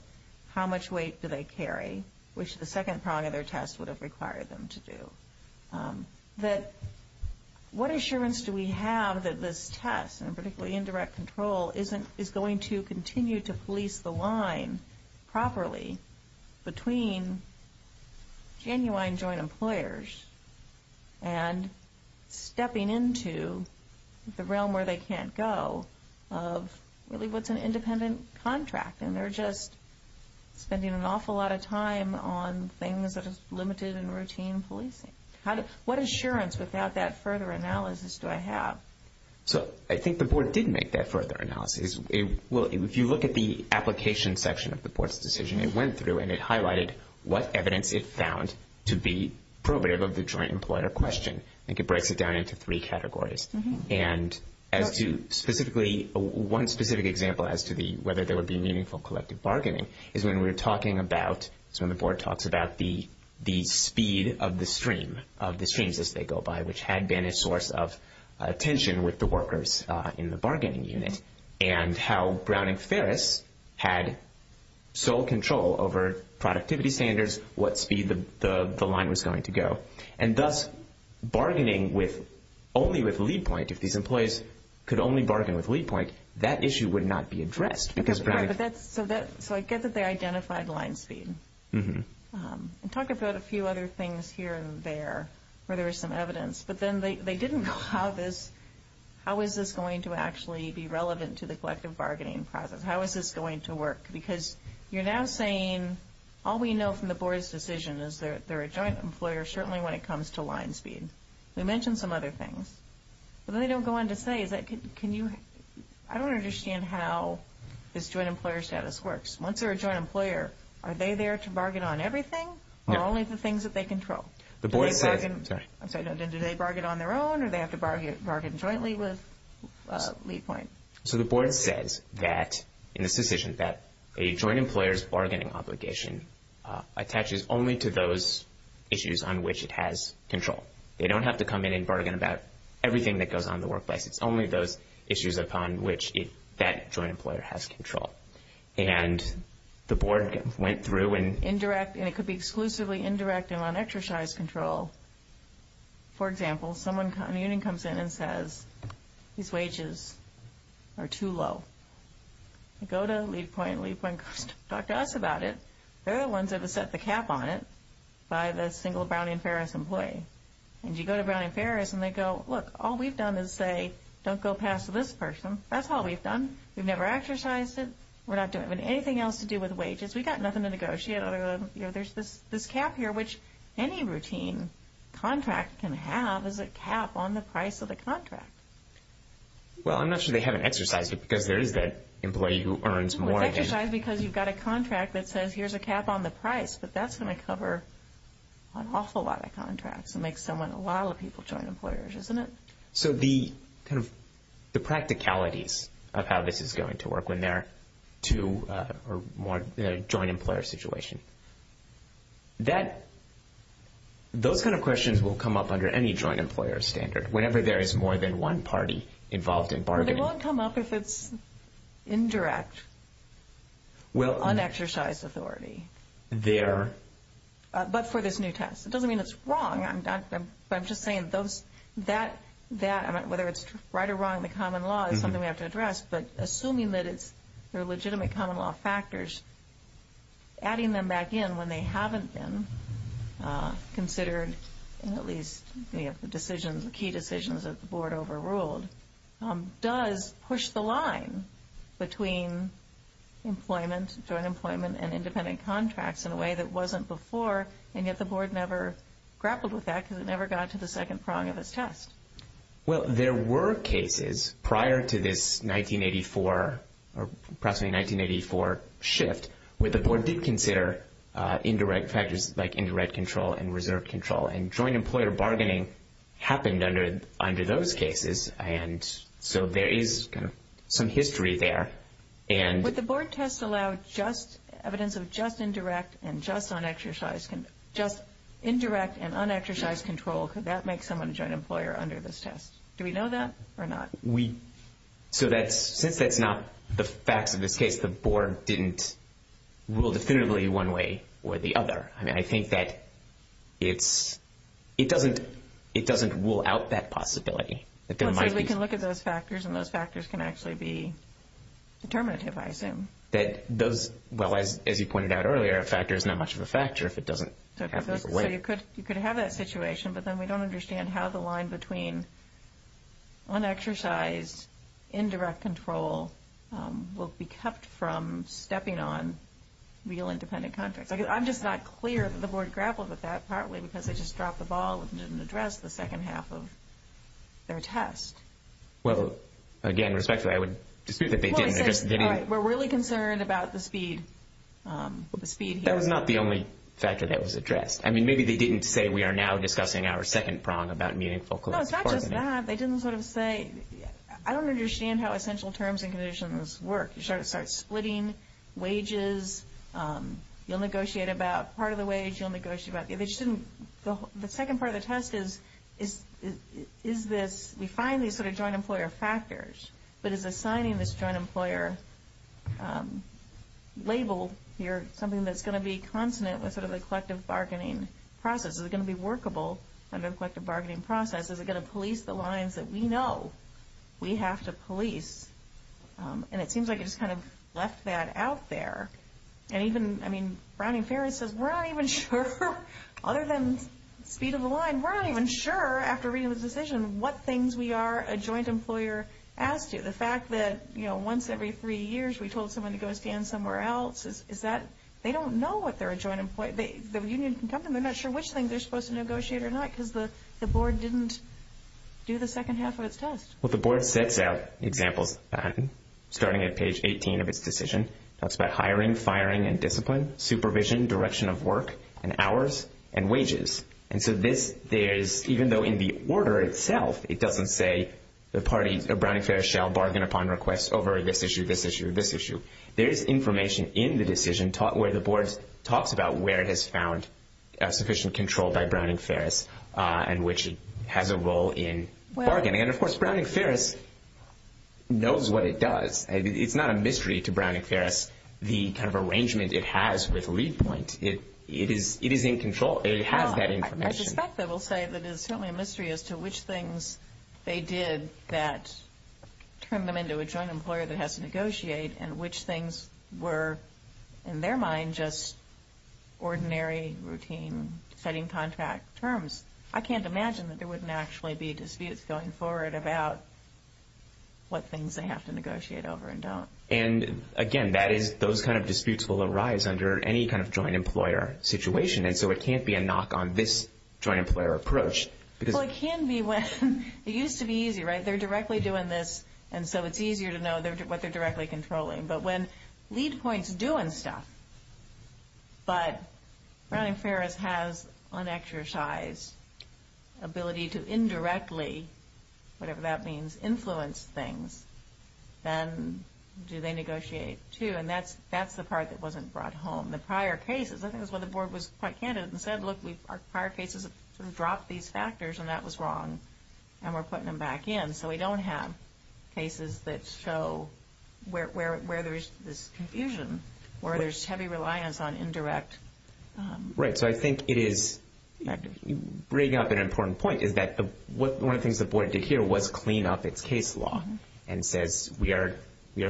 how much weight do they carry, which the second part of their test would have required them to do, that what assurance do we have that this test, and particularly indirect control, is going to continue to fleece the line properly between genuine joint employers and stepping into the realm where they can't go of really what's an independent contract, and they're just spending an awful lot of time on things that are limited and routine policing. What assurance without that further analysis do I have? I think the board did make that further analysis. If you look at the application section of the board's decision, it went through and it highlighted what evidence it found to be probative of the joint employer question. I think it breaks it down into three categories. One specific example has to be whether there would be meaningful collective bargaining is when we were talking about, so when the board talks about the speed of the stream, of the changes they go by, which had been a source of tension with the workers in the bargaining unit, and how Brown and Ferris had sole control over productivity standards, what speed the line was going to go, and thus bargaining only with lead point. If these employees could only bargain with lead point, that issue would not be addressed. I get that they identified line speed. Talk about a few other things here and there where there was some evidence, but then they didn't know how this, how is this going to actually be relevant to the collective bargaining process? How is this going to work? Because you're now saying all we know from the board's decision is they're a joint employer, certainly when it comes to line speed. They mentioned some other things. But then they don't go on to say, but I don't understand how this joint employer status works. Once they're a joint employer, are they there to bargain on everything, or only the things that they control? Do they bargain on their own, or do they have to bargain jointly with lead point? So the board says that, in this decision, that a joint employer's bargaining obligation attaches only to those issues on which it has control. They don't have to come in and bargain about everything that goes on in the workplace. It's only those issues upon which that joint employer has control. And the board went through and indirect, and it could be exclusively indirect on exercise control. For example, a union comes in and says, these wages are too low. You go to lead point, lead point talks to us about it. They're the ones that have set the cap on it by the single Brown and Ferris employee. And you go to Brown and Ferris and they go, look, all we've done is say don't go past this person. That's all we've done. We've never exercised it. We're not doing anything else to do with wages. We've got nothing to negotiate. There's this cap here, which any routine contract can have as a cap on the price of the contract. Well, I'm not sure they haven't exercised it because there is that employee who earns more. Well, it's exercised because you've got a contract that says here's a cap on the price. But that's going to cover an awful lot of contracts. It makes a lot of people joint employers, isn't it? So the practicalities of how this is going to work when they're two or more joint employer situations. Those kind of questions will come up under any joint employer standard. Whenever there is more than one party involved in bargaining. They won't come up if it's indirect, on exercise authority. But for this new test. It doesn't mean it's wrong. I'm just saying whether it's right or wrong, the common law is something we have to address. But assuming that they're legitimate common law factors, adding them back in when they haven't been considered, at least the key decisions that the board overruled, does push the line between employment and independent contracts in a way that wasn't before. And yet the board never grappled with that because it never got to the second prong of its test. Well, there were cases prior to this 1984, or approximately 1984 shift, where the board did consider indirect factors like indirect control and reserve control. And joint employer bargaining happened under those cases. And so there is some history there. Would the board test allow evidence of just indirect and just on exercise, just indirect and on exercise control? Could that make someone a joint employer under this test? Do we know that or not? Since that's not the fact of the case, the board didn't rule definitively one way or the other. I think that it doesn't rule out that possibility. We can look at those factors, and those factors can actually be determinative, I assume. Well, as you pointed out earlier, a factor is not much of a factor if it doesn't happen in a way. So you could have that situation, but then we don't understand how the line between on exercise, indirect control will be kept from stepping on real independent contracts. I'm just not clear if the board grappled with that, partly because they just dropped the ball and didn't address the second half of their test. Well, again, respectfully, I would dispute that they did. We're really concerned about the speed here. That was not the only factor that was addressed. I mean, maybe they didn't say, we are now discussing our second prong about meaningful collective bargaining. Well, it's not just that. They didn't sort of say, I don't understand how essential terms and conditions work. You start splitting wages. You'll negotiate about part of the wage. You'll negotiate about the eviction. The second part of the test is, is this we find these sort of joint employer factors, but is assigning this joint employer label here something that's going to be consonant with sort of the collective bargaining process? Is it going to be workable under a collective bargaining process? Is it going to police the lines that we know we have to police? And it seems like it just kind of left that out there. And even, I mean, Browning-Ferris says, we're not even sure, other than speed of the line, we're not even sure after reading the decision what things we are a joint employer asked you. The fact that, you know, once every three years we told someone to go stand somewhere else, is that they don't know what they're a joint employer. The union can come and they're not sure which thing they're supposed to negotiate or not because the board didn't do the second half of its test. Well, the board sets out examples starting at page 18 of its decision. It talks about hiring, firing, and discipline, supervision, direction of work, and hours, and wages. And so this is, even though in the order itself, it doesn't say the party of Browning-Ferris shall bargain upon requests over this issue, this issue, this issue. There is information in the decision where the board talks about where it has found sufficient control by Browning-Ferris, and which has a role in bargaining. And, of course, Browning-Ferris knows what it does. It's not a mystery to Browning-Ferris the kind of arrangement it has with lead points. It is in control. It has that information. I suspect they will say that it's certainly a mystery as to which things they did that turned them into a joint employer that has to negotiate, and which things were, in their mind, just ordinary routine setting contract terms. I can't imagine that there wouldn't actually be disputes going forward about what things they have to negotiate over and don't. And, again, that is, those kind of disputes will arise under any kind of joint employer situation, and so it can't be a knock on this joint employer approach. Well, it can be when, it used to be easy, right? They're directly doing this, and so it's easier to know what they're directly controlling. But when lead points are doing stuff, but Browning-Ferris has an exercise ability to indirectly, whatever that means, influence things, then do they negotiate too? And that's the part that wasn't brought home. The prior cases, I think that's when the board was quite candid and said, look, our prior cases have dropped these factors, and that was wrong, and we're putting them back in. And so we don't have cases that show where there's this confusion or there's heavy reliance on indirect. Right. So I think it is bringing up an important point, is that one of the things the board did here was clean up its case law and said we are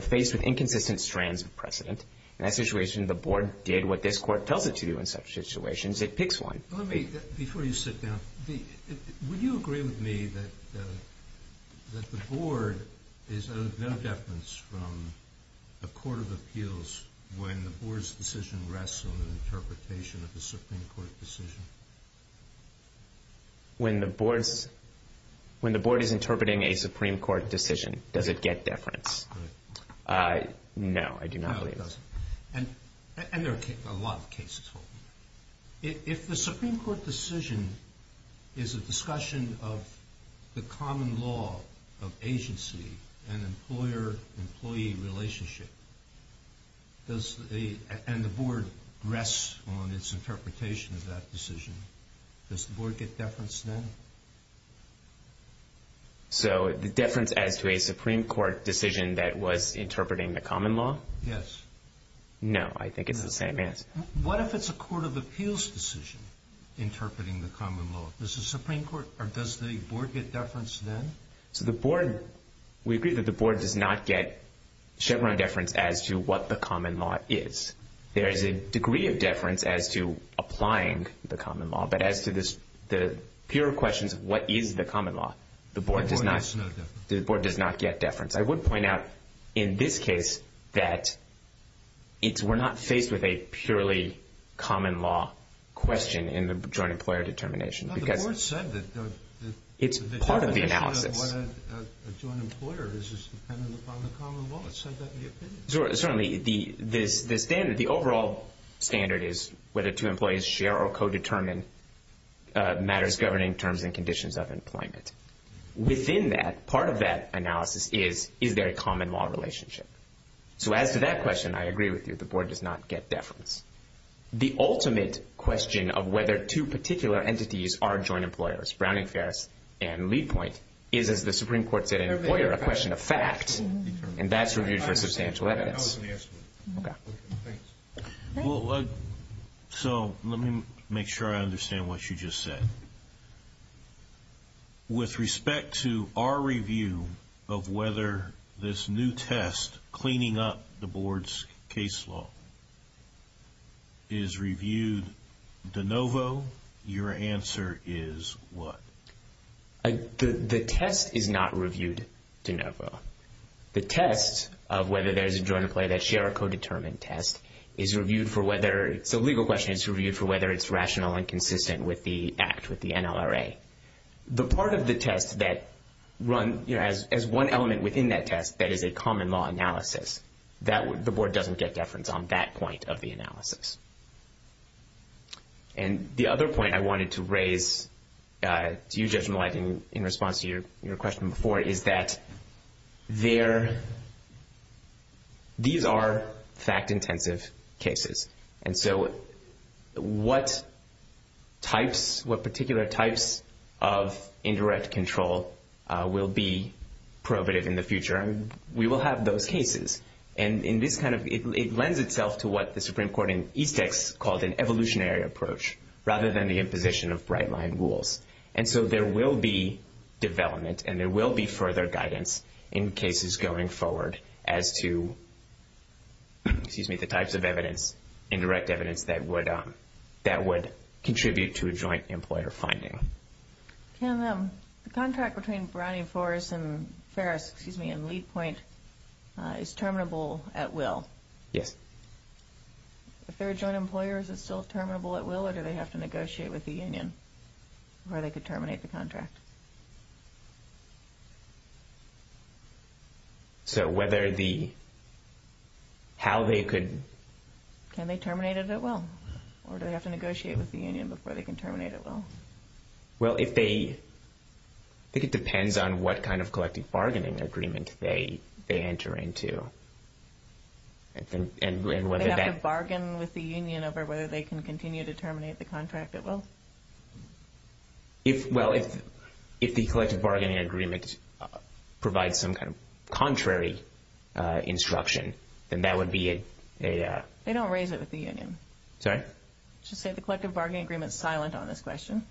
facing inconsistent strands of precedent. In that situation, the board did what this court tells it to do in such situations. It picks one. Before you sit down, would you agree with me that the board is of no deference from the Court of Appeals when the board's decision rests on the interpretation of the Supreme Court decision? When the board is interpreting a Supreme Court decision, does it get deference? No, I do not believe it does. And there are a lot of cases. If the Supreme Court decision is a discussion of the common law of agency and employer-employee relationship, and the board rests on its interpretation of that decision, does the board get deference then? So the deference added to a Supreme Court decision that was interpreting the common law? Yes. No, I think it's the same answer. What if it's a Court of Appeals decision interpreting the common law? Does the board get deference then? We agree that the board does not get Chevron deference as to what the common law is. There is a degree of deference as to applying the common law, but as to the pure question of what is the common law, the board does not get deference. I would point out in this case that we're not faced with a purely common law question in the joint employer determination. But the board said that... It's part of the analysis. ...a joint employer is dependent upon the common law. It said that in the opinion. Certainly. The overall standard is whether two employees share or co-determine matters governing terms and conditions of employment. Within that, part of that analysis is, is there a common law relationship? So as to that question, I agree with you. The board does not get deference. The ultimate question of whether two particular entities are joint employers, Browning-Ferris and Lee Point, is, as the Supreme Court said, an employer, a question of fact, and that's reviewed for substantial evidence. That was the answer. Okay. Thanks. Well, so let me make sure I understand what you just said. With respect to our review of whether this new test, cleaning up the board's case law, is reviewed de novo, your answer is what? The test is not reviewed de novo. The test of whether there's a joint employer that share a co-determined test is reviewed for whether... The legal question is reviewed for whether it's rational and consistent with the act, with the NLRA. The part of the test that run, you know, as one element within that test, that is a common law analysis, the board doesn't get deference on that point of the analysis. And the other point I wanted to raise, you, Judge Millet, in response to your question before, is that these are fact-intensive cases. And so what types, what particular types of indirect control will be prohibitive in the future? We will have those cases. And in this kind of... It lends itself to what the Supreme Court in Ethics calls an evolutionary approach, rather than the imposition of right-line rules. And so there will be development and there will be further guidance in cases going forward as to, excuse me, the types of evidence, indirect evidence that would contribute to a joint employer finding. Can the contract between Browning Forrest and Ferris, excuse me, and Leap Point, is terminable at will? Yes. If they're joint employers, it's still terminable at will or do they have to negotiate with the union before they could terminate the contract? So whether the... how they could... Can they terminate it at will? Or do they have to negotiate with the union before they can terminate at will? Well, if they... I think it depends on what kind of collective bargaining agreement they enter into. And whether that... over whether they can continue to terminate the contract at will? Well, if the collective bargaining agreement provides some kind of contrary instruction, then that would be a... They don't raise it with the union. Sorry? I should say the collective bargaining agreement is silent on this question.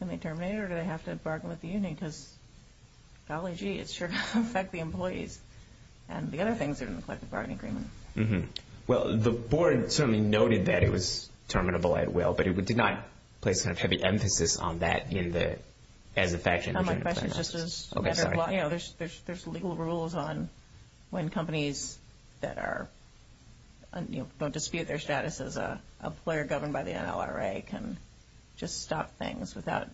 Can they terminate it or do they have to bargain with the union because, golly gee, it sure does affect the employees and the other things in the collective bargaining agreement. Well, the board certainly noted that it was terminable at will, but it did not place much heavy emphasis on that in the...as a fact... My question is just as... There's legal rules on when companies that are... don't dispute their status as a player governed by the NLRA can just stop things without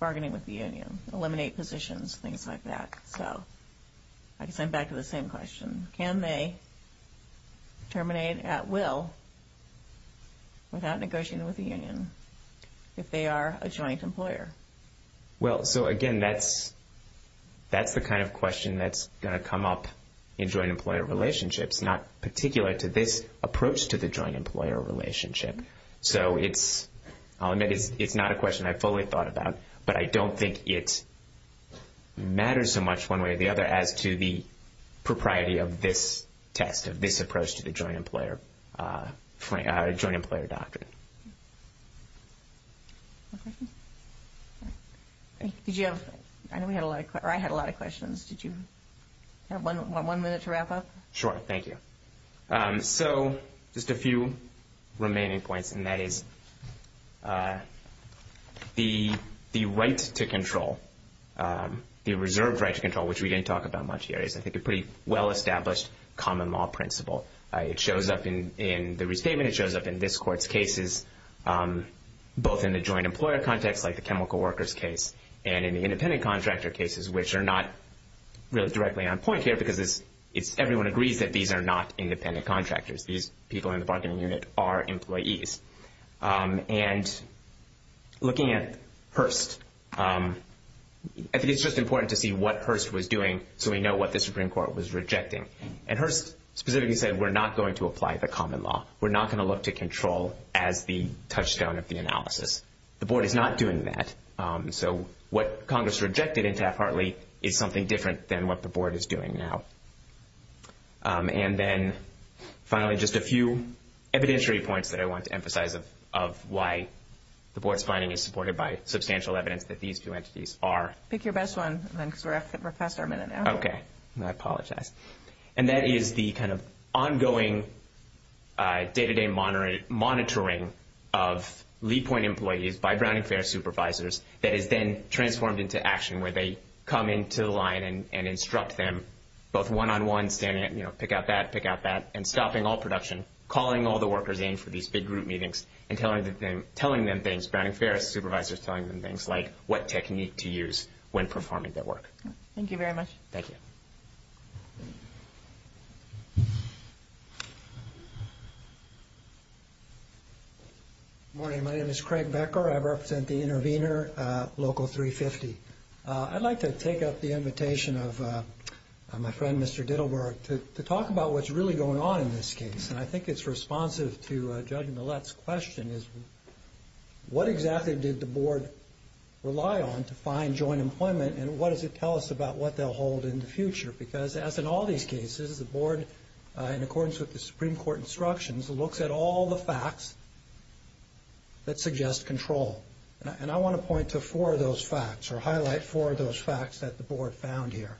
bargaining with the union, eliminate positions, things like that. So I can send back to the same question. Can they terminate at will without negotiating with the union if they are a joint employer? Well, so again, that's the kind of question that's going to come up in joint employer relationships, not particularly to this approach to the joint employer relationship. So it's... It's not a question I fully thought about, but I don't think it matters so much one way or the other as to the propriety of this test, of this approach to the joint employer docket. I know we had a lot of...or I had a lot of questions. Did you have one minute to wrap up? Sure, thank you. So just a few remaining points, the reserved right to control, which we didn't talk about much here, is I think a pretty well-established common law principle. It shows up in the restatement. It shows up in this court's cases, both in the joint employer context, like the chemical workers case, and in the independent contractor cases, which are not really directly on point here because it's...everyone agrees that these are not independent contractors. These people in the bargaining unit are employees. And looking at Hearst, I think it's just important to see what Hearst was doing so we know what the Supreme Court was rejecting. And Hearst specifically said, we're not going to apply the common law. We're not going to look to control as the touchstone of the analysis. The board is not doing that. So what Congress rejected in Taft-Hartley is something different than what the board is doing now. And then, finally, just a few evidentiary points that I wanted to emphasize of why the board's findings are supported by substantial evidence that these two entities are. Pick your best one, because we're at the professor a minute now. Okay. And I apologize. And that is the kind of ongoing, day-to-day monitoring of lead point employees by Browning Ferris supervisors that has been transformed into action where they come into the line and instruct them both one-on-one, saying, you know, pick out that, pick out that, and stopping all production, calling all the workers in for these big group meetings, and telling them things. And Browning Ferris supervisors telling them things like what technique to use when performing their work. Thank you very much. Thank you. Good morning. My name is Craig Becker. I represent the intervener, Local 350. I'd like to take up the invitation of my friend, Mr. Dittlberg, to talk about what's really going on in this case. And I think it's responsive to Judge Millett's question is what exactly did the board rely on to find joint employment, and what does it tell us about what they'll hold in the future? Because as in all these cases, the board, in accordance with the Supreme Court instructions, looks at all the facts that suggest control. And I want to point to four of those facts or highlight four of those facts that the board found here.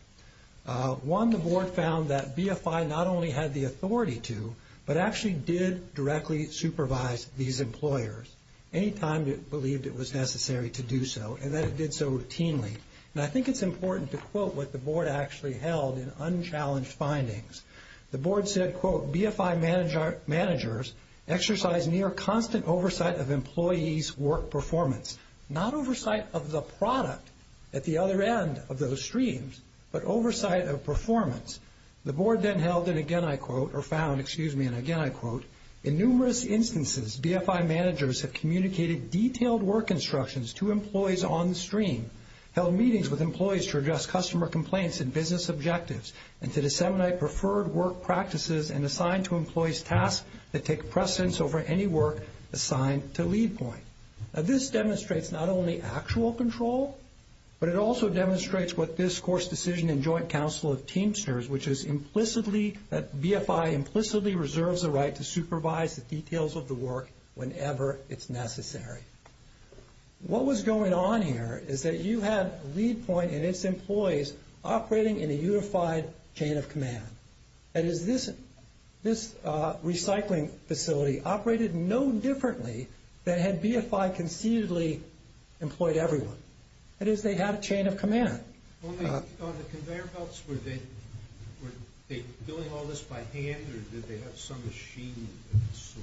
One, the board found that BFI not only had the authority to, but actually did directly supervise these employers any time it believed it was necessary to do so, and that it did so routinely. And I think it's important to quote what the board actually held in unchallenged findings. The board said, quote, BFI managers exercise near constant oversight of employees' work performance. Not oversight of the product at the other end of those streams, but oversight of performance. The board then held it again, I quote, or found, excuse me, and again I quote, in numerous instances, BFI managers have communicated detailed work instructions to employees on stream, held meetings with employees to address customer complaints and business objectives, and to disseminate preferred work practices and assign to employees tasks that take precedence over any work assigned to lead point. Now, this demonstrates not only actual control, but it also demonstrates what this course decision and joint council of teamsters, which is implicitly, that BFI implicitly reserves the right to supervise the details of the work whenever it's necessary. What was going on here is that you have lead point and its employees operating in a unified chain of command. And this recycling facility operated no differently than had BFI confusedly employed everyone. That is, they had a chain of command. On the conveyor belts, were they doing all this by hand or did they have some machines?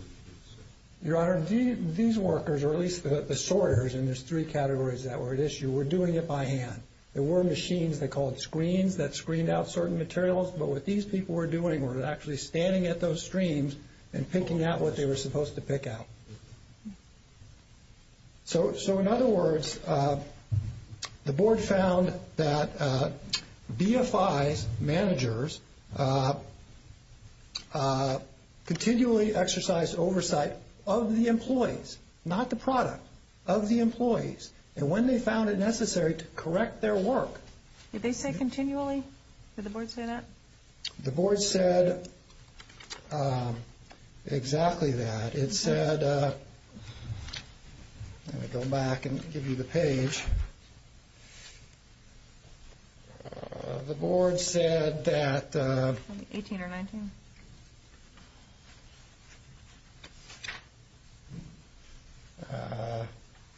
Your Honor, these workers, or at least the sorters in these three categories that were at issue, were doing it by hand. There were machines they called screens that screened out certain materials, but what these people were doing was actually standing at those screens and picking out what they were supposed to pick out. So in other words, the board found that BFI managers continually exercised oversight of the employees, not the product, of the employees, and when they found it necessary to correct their work. Did they say continually? Did the board say that? The board said exactly that. It said... I'm going to go back and give you the page. The board said that... 18 or 19?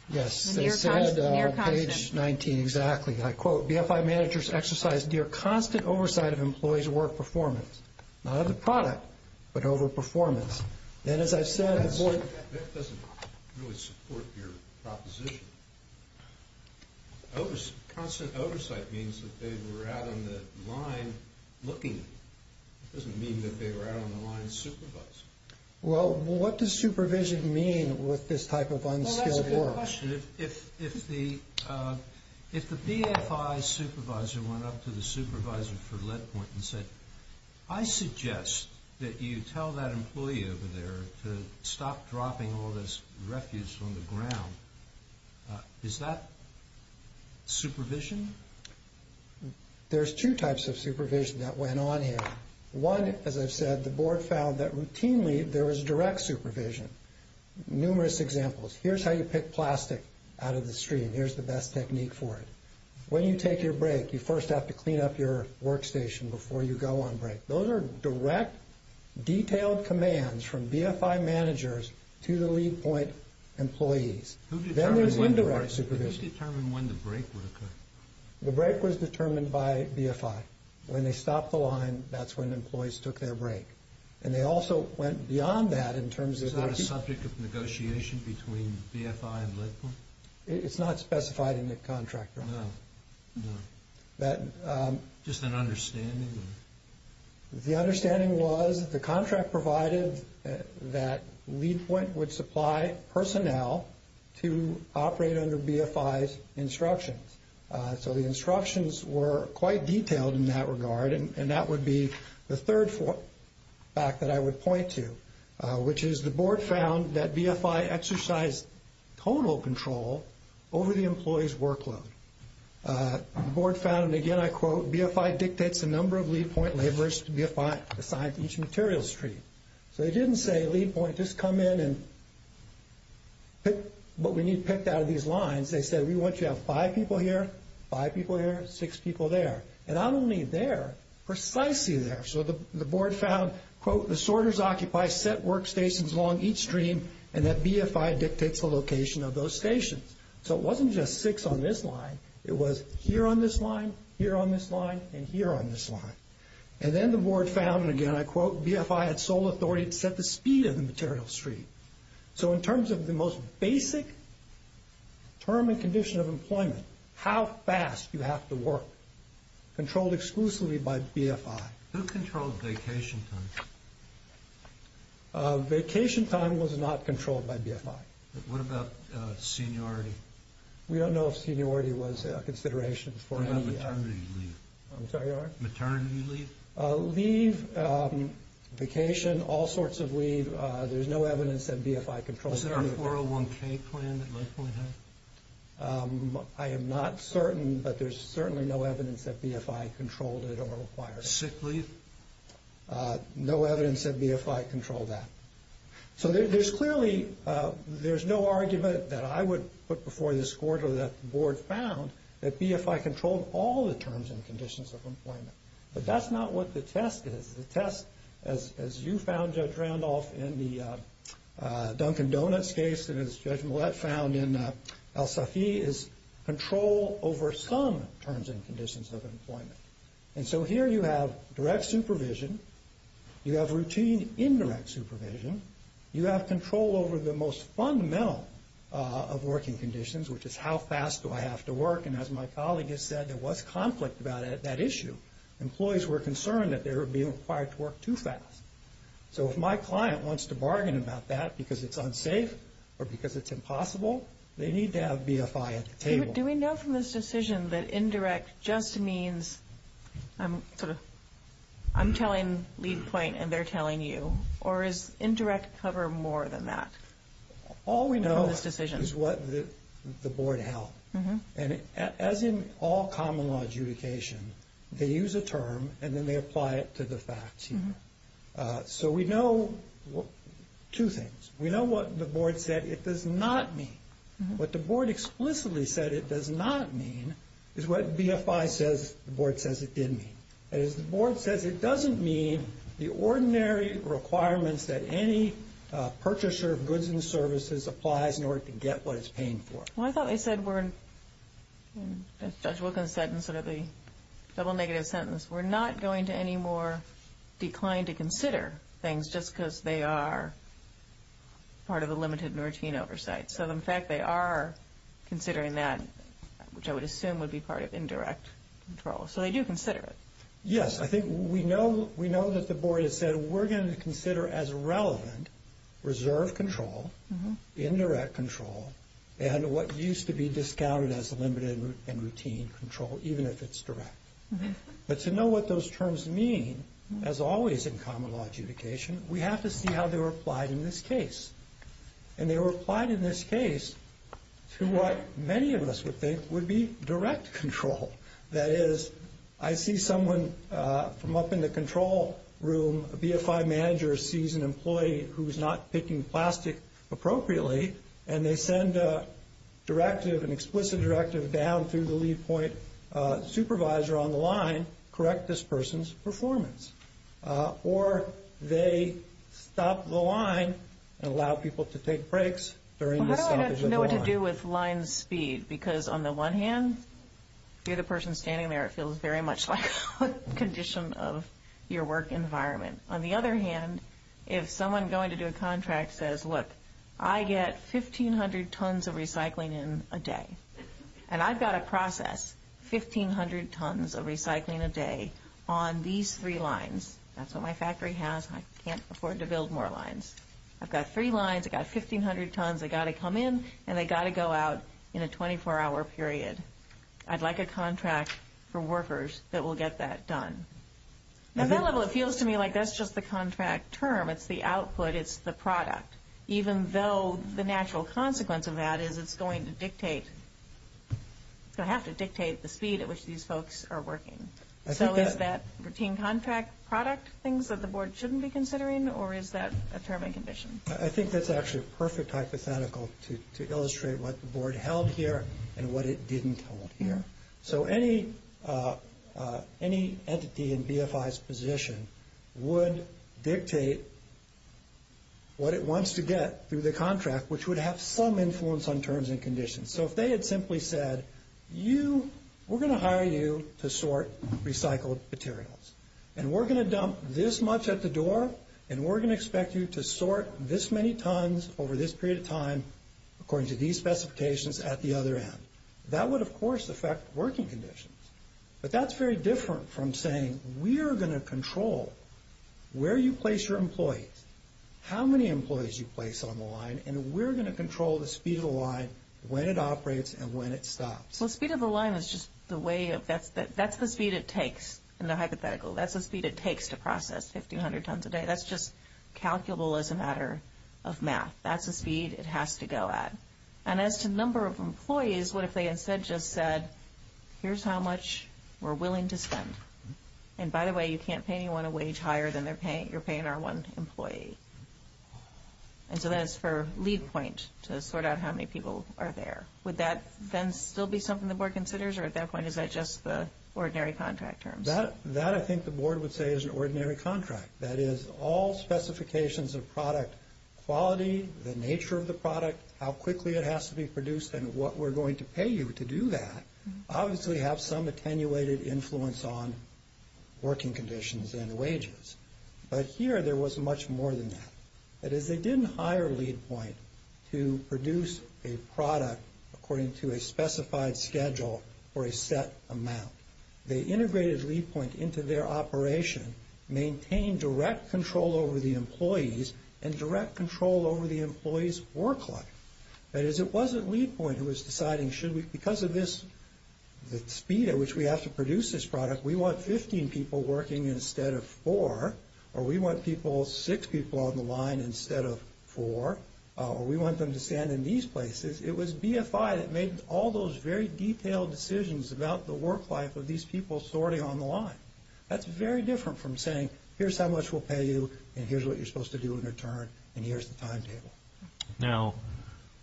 Yes. Page 19, exactly. I quote, BFI managers exercised dear constant oversight of employees' work performance, not of the product, but over performance. And as I said, the board... That doesn't really support your proposition. Constant oversight means that they were out on the line looking. It doesn't mean that they were out on the line supervising. Well, what does supervision mean with this type of unskilled work? Well, that's a good question. If the BFI supervisor went up to the supervisor for LeadPoint and said, I suggest that you tell that employee over there to stop dropping all this wreckage from the ground. Is that supervision? There's two types of supervision that went on here. One, as I said, the board found that routinely there was direct supervision. Numerous examples. Here's how you pick plastic out of the stream. Here's the best technique for it. When you take your break, you first have to clean up your workstation before you go on break. Those are direct, detailed commands from BFI managers to the LeadPoint employees. Then there's indirect supervision. Who's determined when the break will occur? The break was determined by BFI. When they stopped the line, that's when employees took their break. And they also went beyond that in terms of... Is that a subject of negotiation between BFI and LeadPoint? It's not specified in the contract. No. Just an understanding. The understanding was the contract provided that LeadPoint would supply personnel to operate under BFI's instructions. So the instructions were quite detailed in that regard, and that would be the third fact that I would point to, which is the board found that BFI exercised total control over the employee's workload. The board found, and again I quote, BFI dictates the number of LeadPoint laborers to be assigned to each material stream. So they didn't say, LeadPoint, just come in and pick what we need picked out of these lines. They said, we want you to have five people here, five people there, six people there. And I'm only there, precisely there. So the board found, quote, disorders occupy set workstations along each stream, and that BFI dictates the location of those stations. So it wasn't just six on this line, it was here on this line, here on this line, and here on this line. And then the board found, and again I quote, BFI had sole authority to set the speed of the material stream. So in terms of the most basic term and condition of employment, how fast you have to work, controlled exclusively by BFI. Who controls vacation time? Vacation time was not controlled by BFI. What about seniority? We don't know if seniority was a consideration. What about maternity leave? I'm sorry, what? Maternity leave? Leave, vacation, all sorts of leave, there's no evidence that BFI controls that. Is there an Oral 1K plan that LeadPoint has? I am not certain, but there's certainly no evidence that BFI controlled it or required it. Sick leave? No evidence that BFI controlled that. So there's clearly, there's no argument that I would put before this court or that the board found, that BFI controlled all the terms and conditions of employment. But that's not what the test is. The test, as you found Judge Randolph in the Dunkin' Donuts case, and as Judge Millett found in El Safi, is control over some terms and conditions of employment. And so here you have direct supervision, you have routine indirect supervision, you have control over the most fundamental of working conditions, which is how fast do I have to work, and as my colleague has said, there was conflict about that issue. Employees were concerned that they were being required to work too fast. So if my client wants to bargain about that because it's unsafe or because it's impossible, they need to have BFI at the table. Do we know from this decision that indirect just means, I'm telling Leadpoint and they're telling you, or is indirect cover more than that? All we know is what the board held. And as in all common law adjudication, they use a term and then they apply it to the facts. So we know two things. We know what the board said it does not mean. What the board explicitly said it does not mean is what BFI says the board says it did mean. As the board says, it doesn't mean the ordinary requirements that any purchaser of goods and services applies in order to get what it's paying for. Well, I thought they said we're, as Judge Wilkins said in sort of the double negative sentence, we're not going to any more be inclined to consider things just because they are part of the limited and routine oversight. So in fact they are considering that, which I would assume would be part of indirect control. So they do consider it. Yes. I think we know that the board has said we're going to consider as relevant reserve control, indirect control, and what used to be discounted as a limited and routine control, even if it's direct. But to know what those terms mean, as always in common law adjudication, we have to see how they're applied in this case. And they were applied in this case to what many of us would think would be direct control. That is, I see someone come up in the control room, a BFI manager sees an employee who's not picking plastic appropriately, and they send a directive, an explicit directive down through the lead point supervisor on the line to correct this person's performance. Or they stop the line and allow people to take breaks. Well, I don't know what to do with line speed because on the one hand, you're the person standing there, it feels very much like a condition of your work environment. On the other hand, if someone going to do a contract says, look, I get 1,500 tons of recycling in a day, and I've got to process 1,500 tons of recycling a day on these three lines. That's what my factory has, and I can't afford to build more lines. I've got three lines, I've got 1,500 tons, I've got to come in, and I've got to go out in a 24-hour period. I'd like a contract for workers that will get that done. At that level, it feels to me like that's just the contract term, it's the output, it's the product, even though the natural consequence of that is it's going to dictate, perhaps it dictates the speed at which these folks are working. So is that routine contract product things that the board shouldn't be considering, or is that a permanent condition? I think that's actually a perfect hypothetical to illustrate what the board held here and what it didn't hold here. So any entity in BFI's position would dictate what it wants to get through the contract, which would have some influence on terms and conditions. So if they had simply said, we're going to hire you to sort recycled materials, and we're going to dump this much at the door, and we're going to expect you to sort this many tons over this period of time, according to these specifications, at the other end. That would, of course, affect working conditions. But that's very different from saying, we are going to control where you place your employees, how many employees you place on the line, and we're going to control the speed of the line, when it operates, and when it stops. So speed of the line is just the way of that's the speed it takes, in the hypothetical, that's the speed it takes to process 1,500 tons a day. That's just calculable as a matter of math. That's the speed it has to go at. And as to number of employees, what if they instead just said, here's how much we're willing to spend. And by the way, you can't pay anyone a wage higher than you're paying our one employee. And so that's for lead point, to sort out how many people are there. Would that then still be something the board considers, or at that point is that just the ordinary contract term? That, I think, the board would say is an ordinary contract. That is, all specifications of product quality, the nature of the product, how quickly it has to be produced, and what we're going to pay you to do that, obviously have some attenuated influence on working conditions and wages. But here there was much more than that. That is, they didn't hire lead point to produce a product according to a specified schedule or a set amount. They integrated lead point into their operation, maintained direct control over the employees, and direct control over the employees' work life. That is, it wasn't lead point who was deciding, because of this speed at which we have to produce this product, we want 15 people working instead of four. Or we want six people on the line instead of four. Or we want them to stand in these places. It was BFI that made all those very detailed decisions about the work life of these people sorting on the line. That's very different from saying, here's how much we'll pay you, and here's what you're supposed to do in return, and here's the timetable. Now,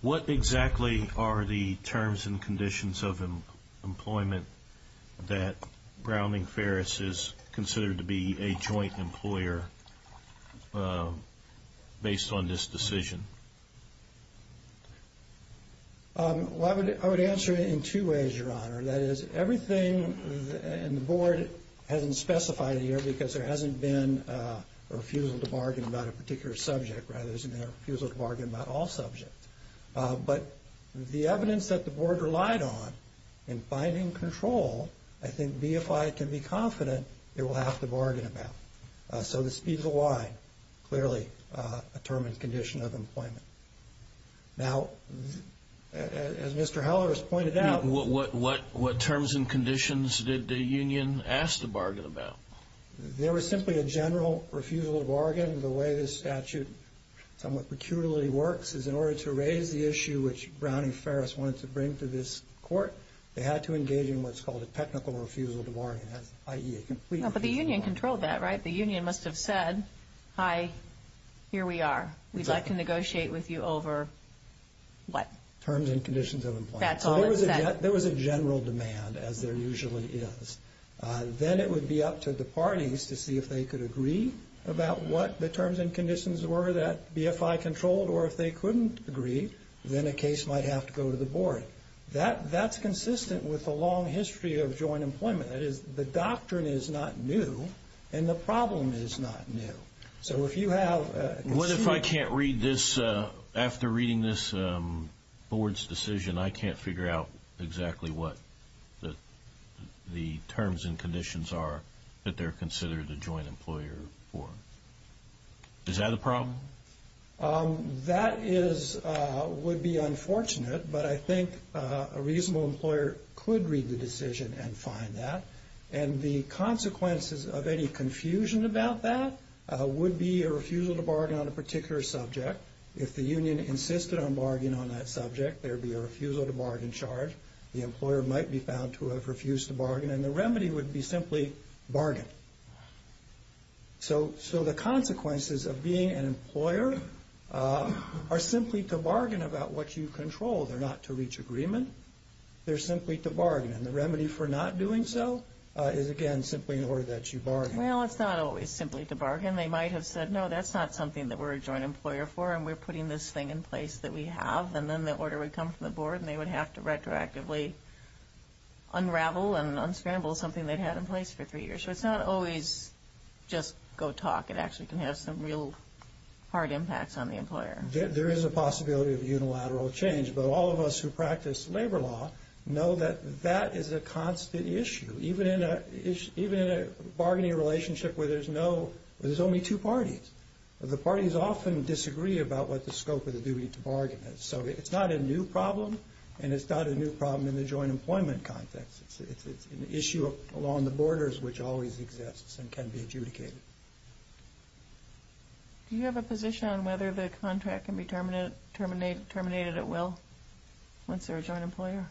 what exactly are the terms and conditions of employment that Browning Ferris is considered to be a joint employer based on this decision? I would answer it in two ways, Your Honor. That is, everything in the board hasn't specified here, because there hasn't been a refusal to bargain about a particular subject. There hasn't been a refusal to bargain about all subjects. But the evidence that the board relied on in finding control, I think BFI can be confident it will have to bargain about. Now, as Mr. Heller has pointed out. What terms and conditions did the union ask to bargain about? There was simply a general refusal to bargain. The way this statute somewhat peculiarly works is in order to raise the issue which Browning Ferris wants to bring to this court, they had to engage in what's called a technical refusal to bargain, i.e. a complete refusal. But the union controlled that, right? The union must have said, hi, here we are. We'd like to negotiate with you over what? Terms and conditions of employment. That's all it said. There was a general demand, as there usually is. Then it would be up to the parties to see if they could agree about what the terms and conditions were that BFI controlled, or if they couldn't agree, then a case might have to go to the board. That's consistent with a long history of joint employment. The doctrine is not new, and the problem is not new. What if I can't read this? After reading this board's decision, I can't figure out exactly what the terms and conditions are that they're considered a joint employer for? Is that a problem? That would be unfortunate, but I think a reasonable employer could read the decision and find that. And the consequences of any confusion about that would be a refusal to bargain on a particular subject. If the union insisted on bargaining on that subject, there would be a refusal to bargain charge. The employer might be found to have refused to bargain, and the remedy would be simply bargain. So the consequences of being an employer are simply to bargain about what you control. They're not to reach agreement. They're simply to bargain. And the remedy for not doing so is, again, simply in order that you bargain. Well, it's not always simply to bargain. They might have said, no, that's not something that we're a joint employer for, and we're putting this thing in place that we have. And then the order would come from the board, and they would have to retroactively unravel and unscramble something they'd had in place for three years. So it's not always just go talk. It actually can have some real hard impacts on the employer. There is a possibility of unilateral change, but all of us who practice labor law know that that is a constant issue. Even in a bargaining relationship where there's only two parties. The parties often disagree about what the scope of the duty to bargain is. So it's not a new problem, and it's not a new problem in the joint employment context. It's an issue along the borders which always exists and can be adjudicated. Do you have a position on whether the contract can be terminated at will once they're a joint employer?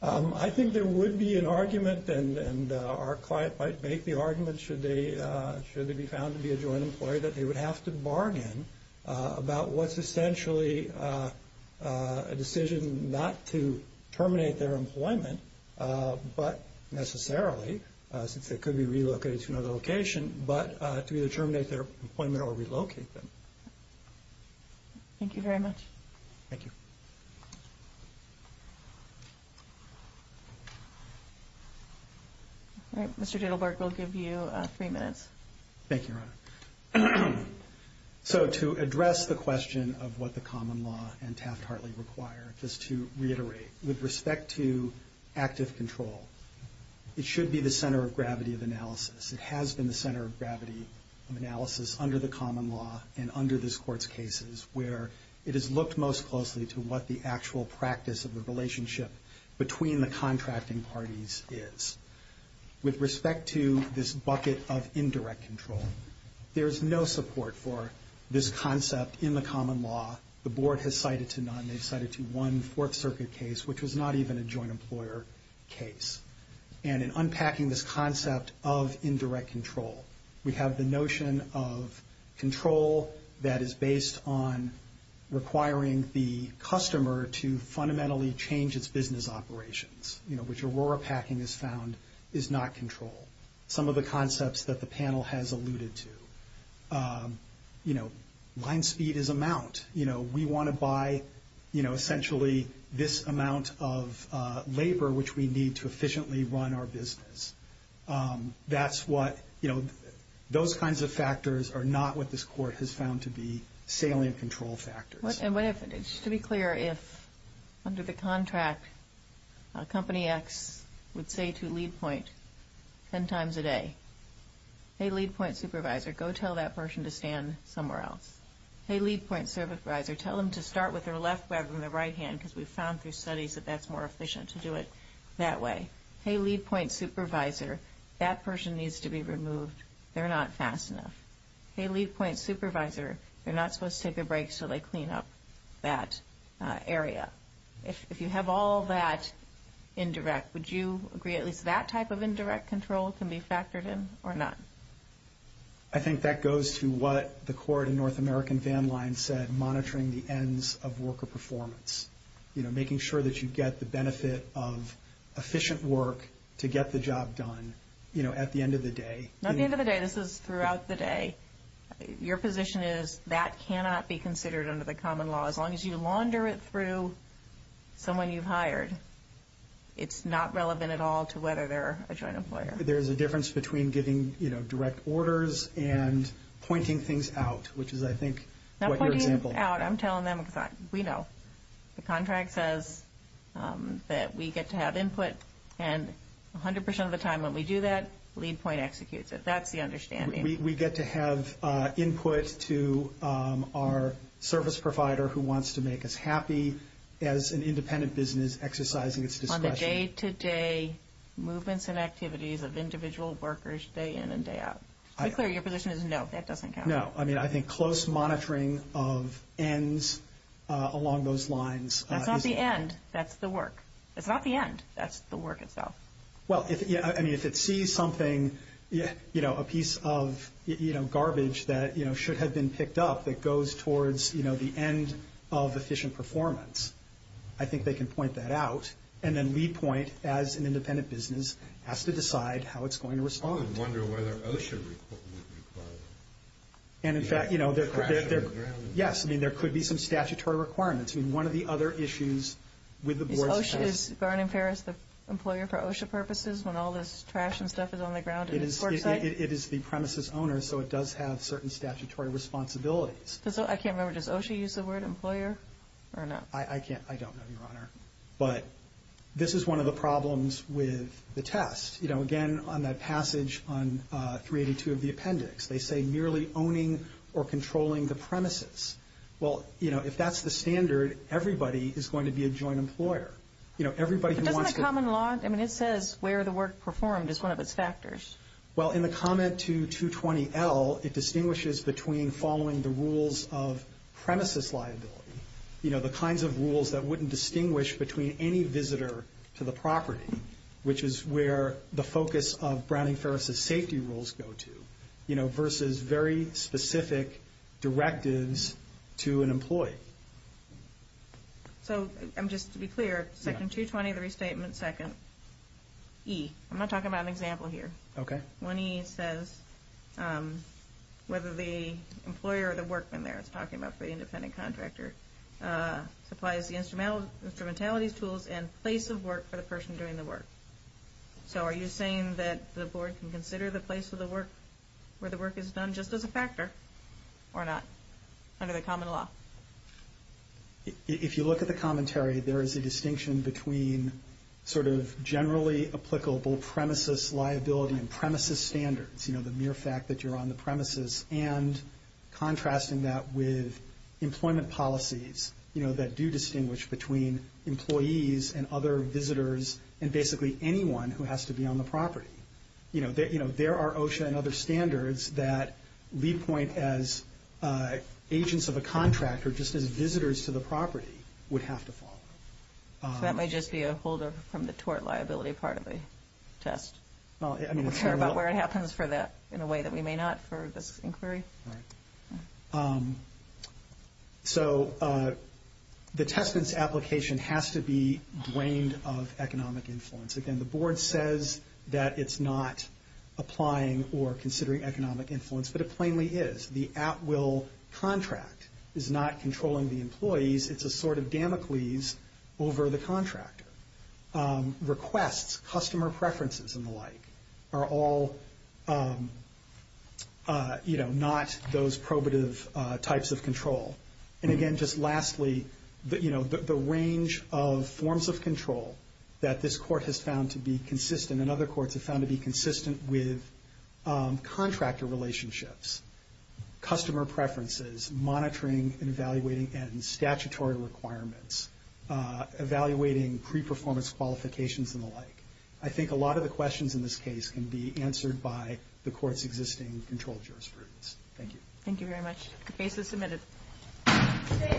I think there would be an argument, and our client might make the argument should they be found to be a joint employer, that they would have to bargain about what's essentially a decision not to terminate their employment, but necessarily, since they could be relocated to another location, but to terminate their employment or relocate them. Thank you very much. Thank you. All right. Mr. Dittlberg, we'll give you three minutes. Thank you, Your Honor. So to address the question of what the common law and Taft-Hartley require, just to reiterate, with respect to active control, it should be the center of gravity of analysis. It has been the center of gravity of analysis under the common law and under this court's cases, where it is looked most closely to what the actual practice of the relationship between the contracting parties is. With respect to this bucket of indirect control, there is no support for this concept in the common law. The board has cited to none. They cited to one Fourth Circuit case, which was not even a joint employer case. And in unpacking this concept of indirect control, we have the notion of control that is based on requiring the customer to fundamentally change its business operations, which Aurora Packing has found is not control. Some of the concepts that the panel has alluded to, you know, line speed is amount. You know, we want to buy, you know, essentially this amount of labor, which we need to efficiently run our business. That's what, you know, those kinds of factors are not what this court has found to be salient control factors. To be clear, if under the contract, a company X would say to lead point 10 times a day, hey, lead point supervisor, go tell that person to stand somewhere else. Hey, lead point supervisor, tell them to start with their left web and the right hand, because we found through studies that that's more efficient to do it that way. Hey, lead point supervisor, that person needs to be removed. They're not fast enough. Hey, lead point supervisor, they're not supposed to take a break so they clean up that area. If you have all that indirect, would you agree at least that type of indirect control can be factored in or not? I think that goes to what the court in North American Van Lines said, monitoring the ends of worker performance, you know, making sure that you get the benefit of efficient work to get the job done, you know, at the end of the day. Not the end of the day. This is throughout the day. Your position is that cannot be considered under the common law. As long as you launder it through someone you've hired, it's not relevant at all to whether they're a joint employer. There's a difference between giving, you know, direct orders and pointing things out, which is I think what your example. I'm telling them we know the contract says that we get to have input and 100% of the time when we do that, lead point executes it. That's the understanding. We get to have input to our service provider who wants to make us happy as an independent business exercising its discretion. Day-to-day movements and activities of individual workers day in and day out. Your position is no. That doesn't count. No. I mean, I think close monitoring of ends along those lines. That's not the end. That's the work. It's not the end. That's the work itself. Well, I mean, if it sees something, you know, a piece of, you know, garbage that, you know, should have been picked up that goes towards, you know, the end of efficient performance, I think they can point that out. And then we point as an independent business has to decide how it's going to respond. And in fact, you know, yes. I mean, there could be some statutory requirements. I mean, one of the other issues with the board. Garden Paris, the employer for OSHA purposes, when all this trash and stuff is on the ground, it is the premises owner. So it does have certain statutory responsibilities. I can't remember. Does OSHA use the word employer or not? I can't. I don't. But this is one of the problems with the test, you know, again, on that passage on 382 of the appendix, they say merely owning or controlling the premises. Well, you know, if that's the standard, everybody is going to be a joint employer. You know, everybody. Common law. I mean, it says where the work performed is one of its factors. Well, in the comment to 220 L, it distinguishes between following the rules of premises liability. You know, the kinds of rules that wouldn't distinguish between any visitor to the property, which is where the focus of Browning-Ferris's safety rules go to. You know, versus very specific directives to an employee. So just to be clear, section 220 of the restatement, second E. I'm not talking about an example here. Okay. One E says whether the employer or the workman there. I'm just talking about for independent contractors. Applies the instrumentality tools and place of work for the person during the work. So are you saying that the board can consider the place of the work where the work is done just as a factor or not? Kind of a common law. If you look at the commentary, there is a distinction between sort of generally applicable premises liability and premises standards. You know, the mere fact that you're on the premises and contrasting that with employment policies, you know, that do distinguish between employees and other visitors and basically anyone who has to be on the property. You know, there are OSHA and other standards that lead point as agents of a contractor just as visitors to the property would have to fall. That may just be a folder from the tort liability part of the test. Well, I mean, I care about where it happens for that in a way that we may not for this inquiry. Right. So the test is application has to be blamed of economic influence. Again, the board says that it's not applying or considering economic influence, but it plainly is. The app will contract is not controlling the employees. It's a sort of Damocles over the contractor requests, customer preferences and the like are all, you know, not those probative types of control. And again, just lastly, but you know, the range of forms of control that this court has found to be consistent. And other courts have found to be consistent with contractor relationships, customer preferences, monitoring and evaluating and statutory requirements, evaluating pre-performance qualifications and the like. I think a lot of the questions in this case can be answered by the court's existing control jurisprudence. Thank you. Thank you very much. Okay.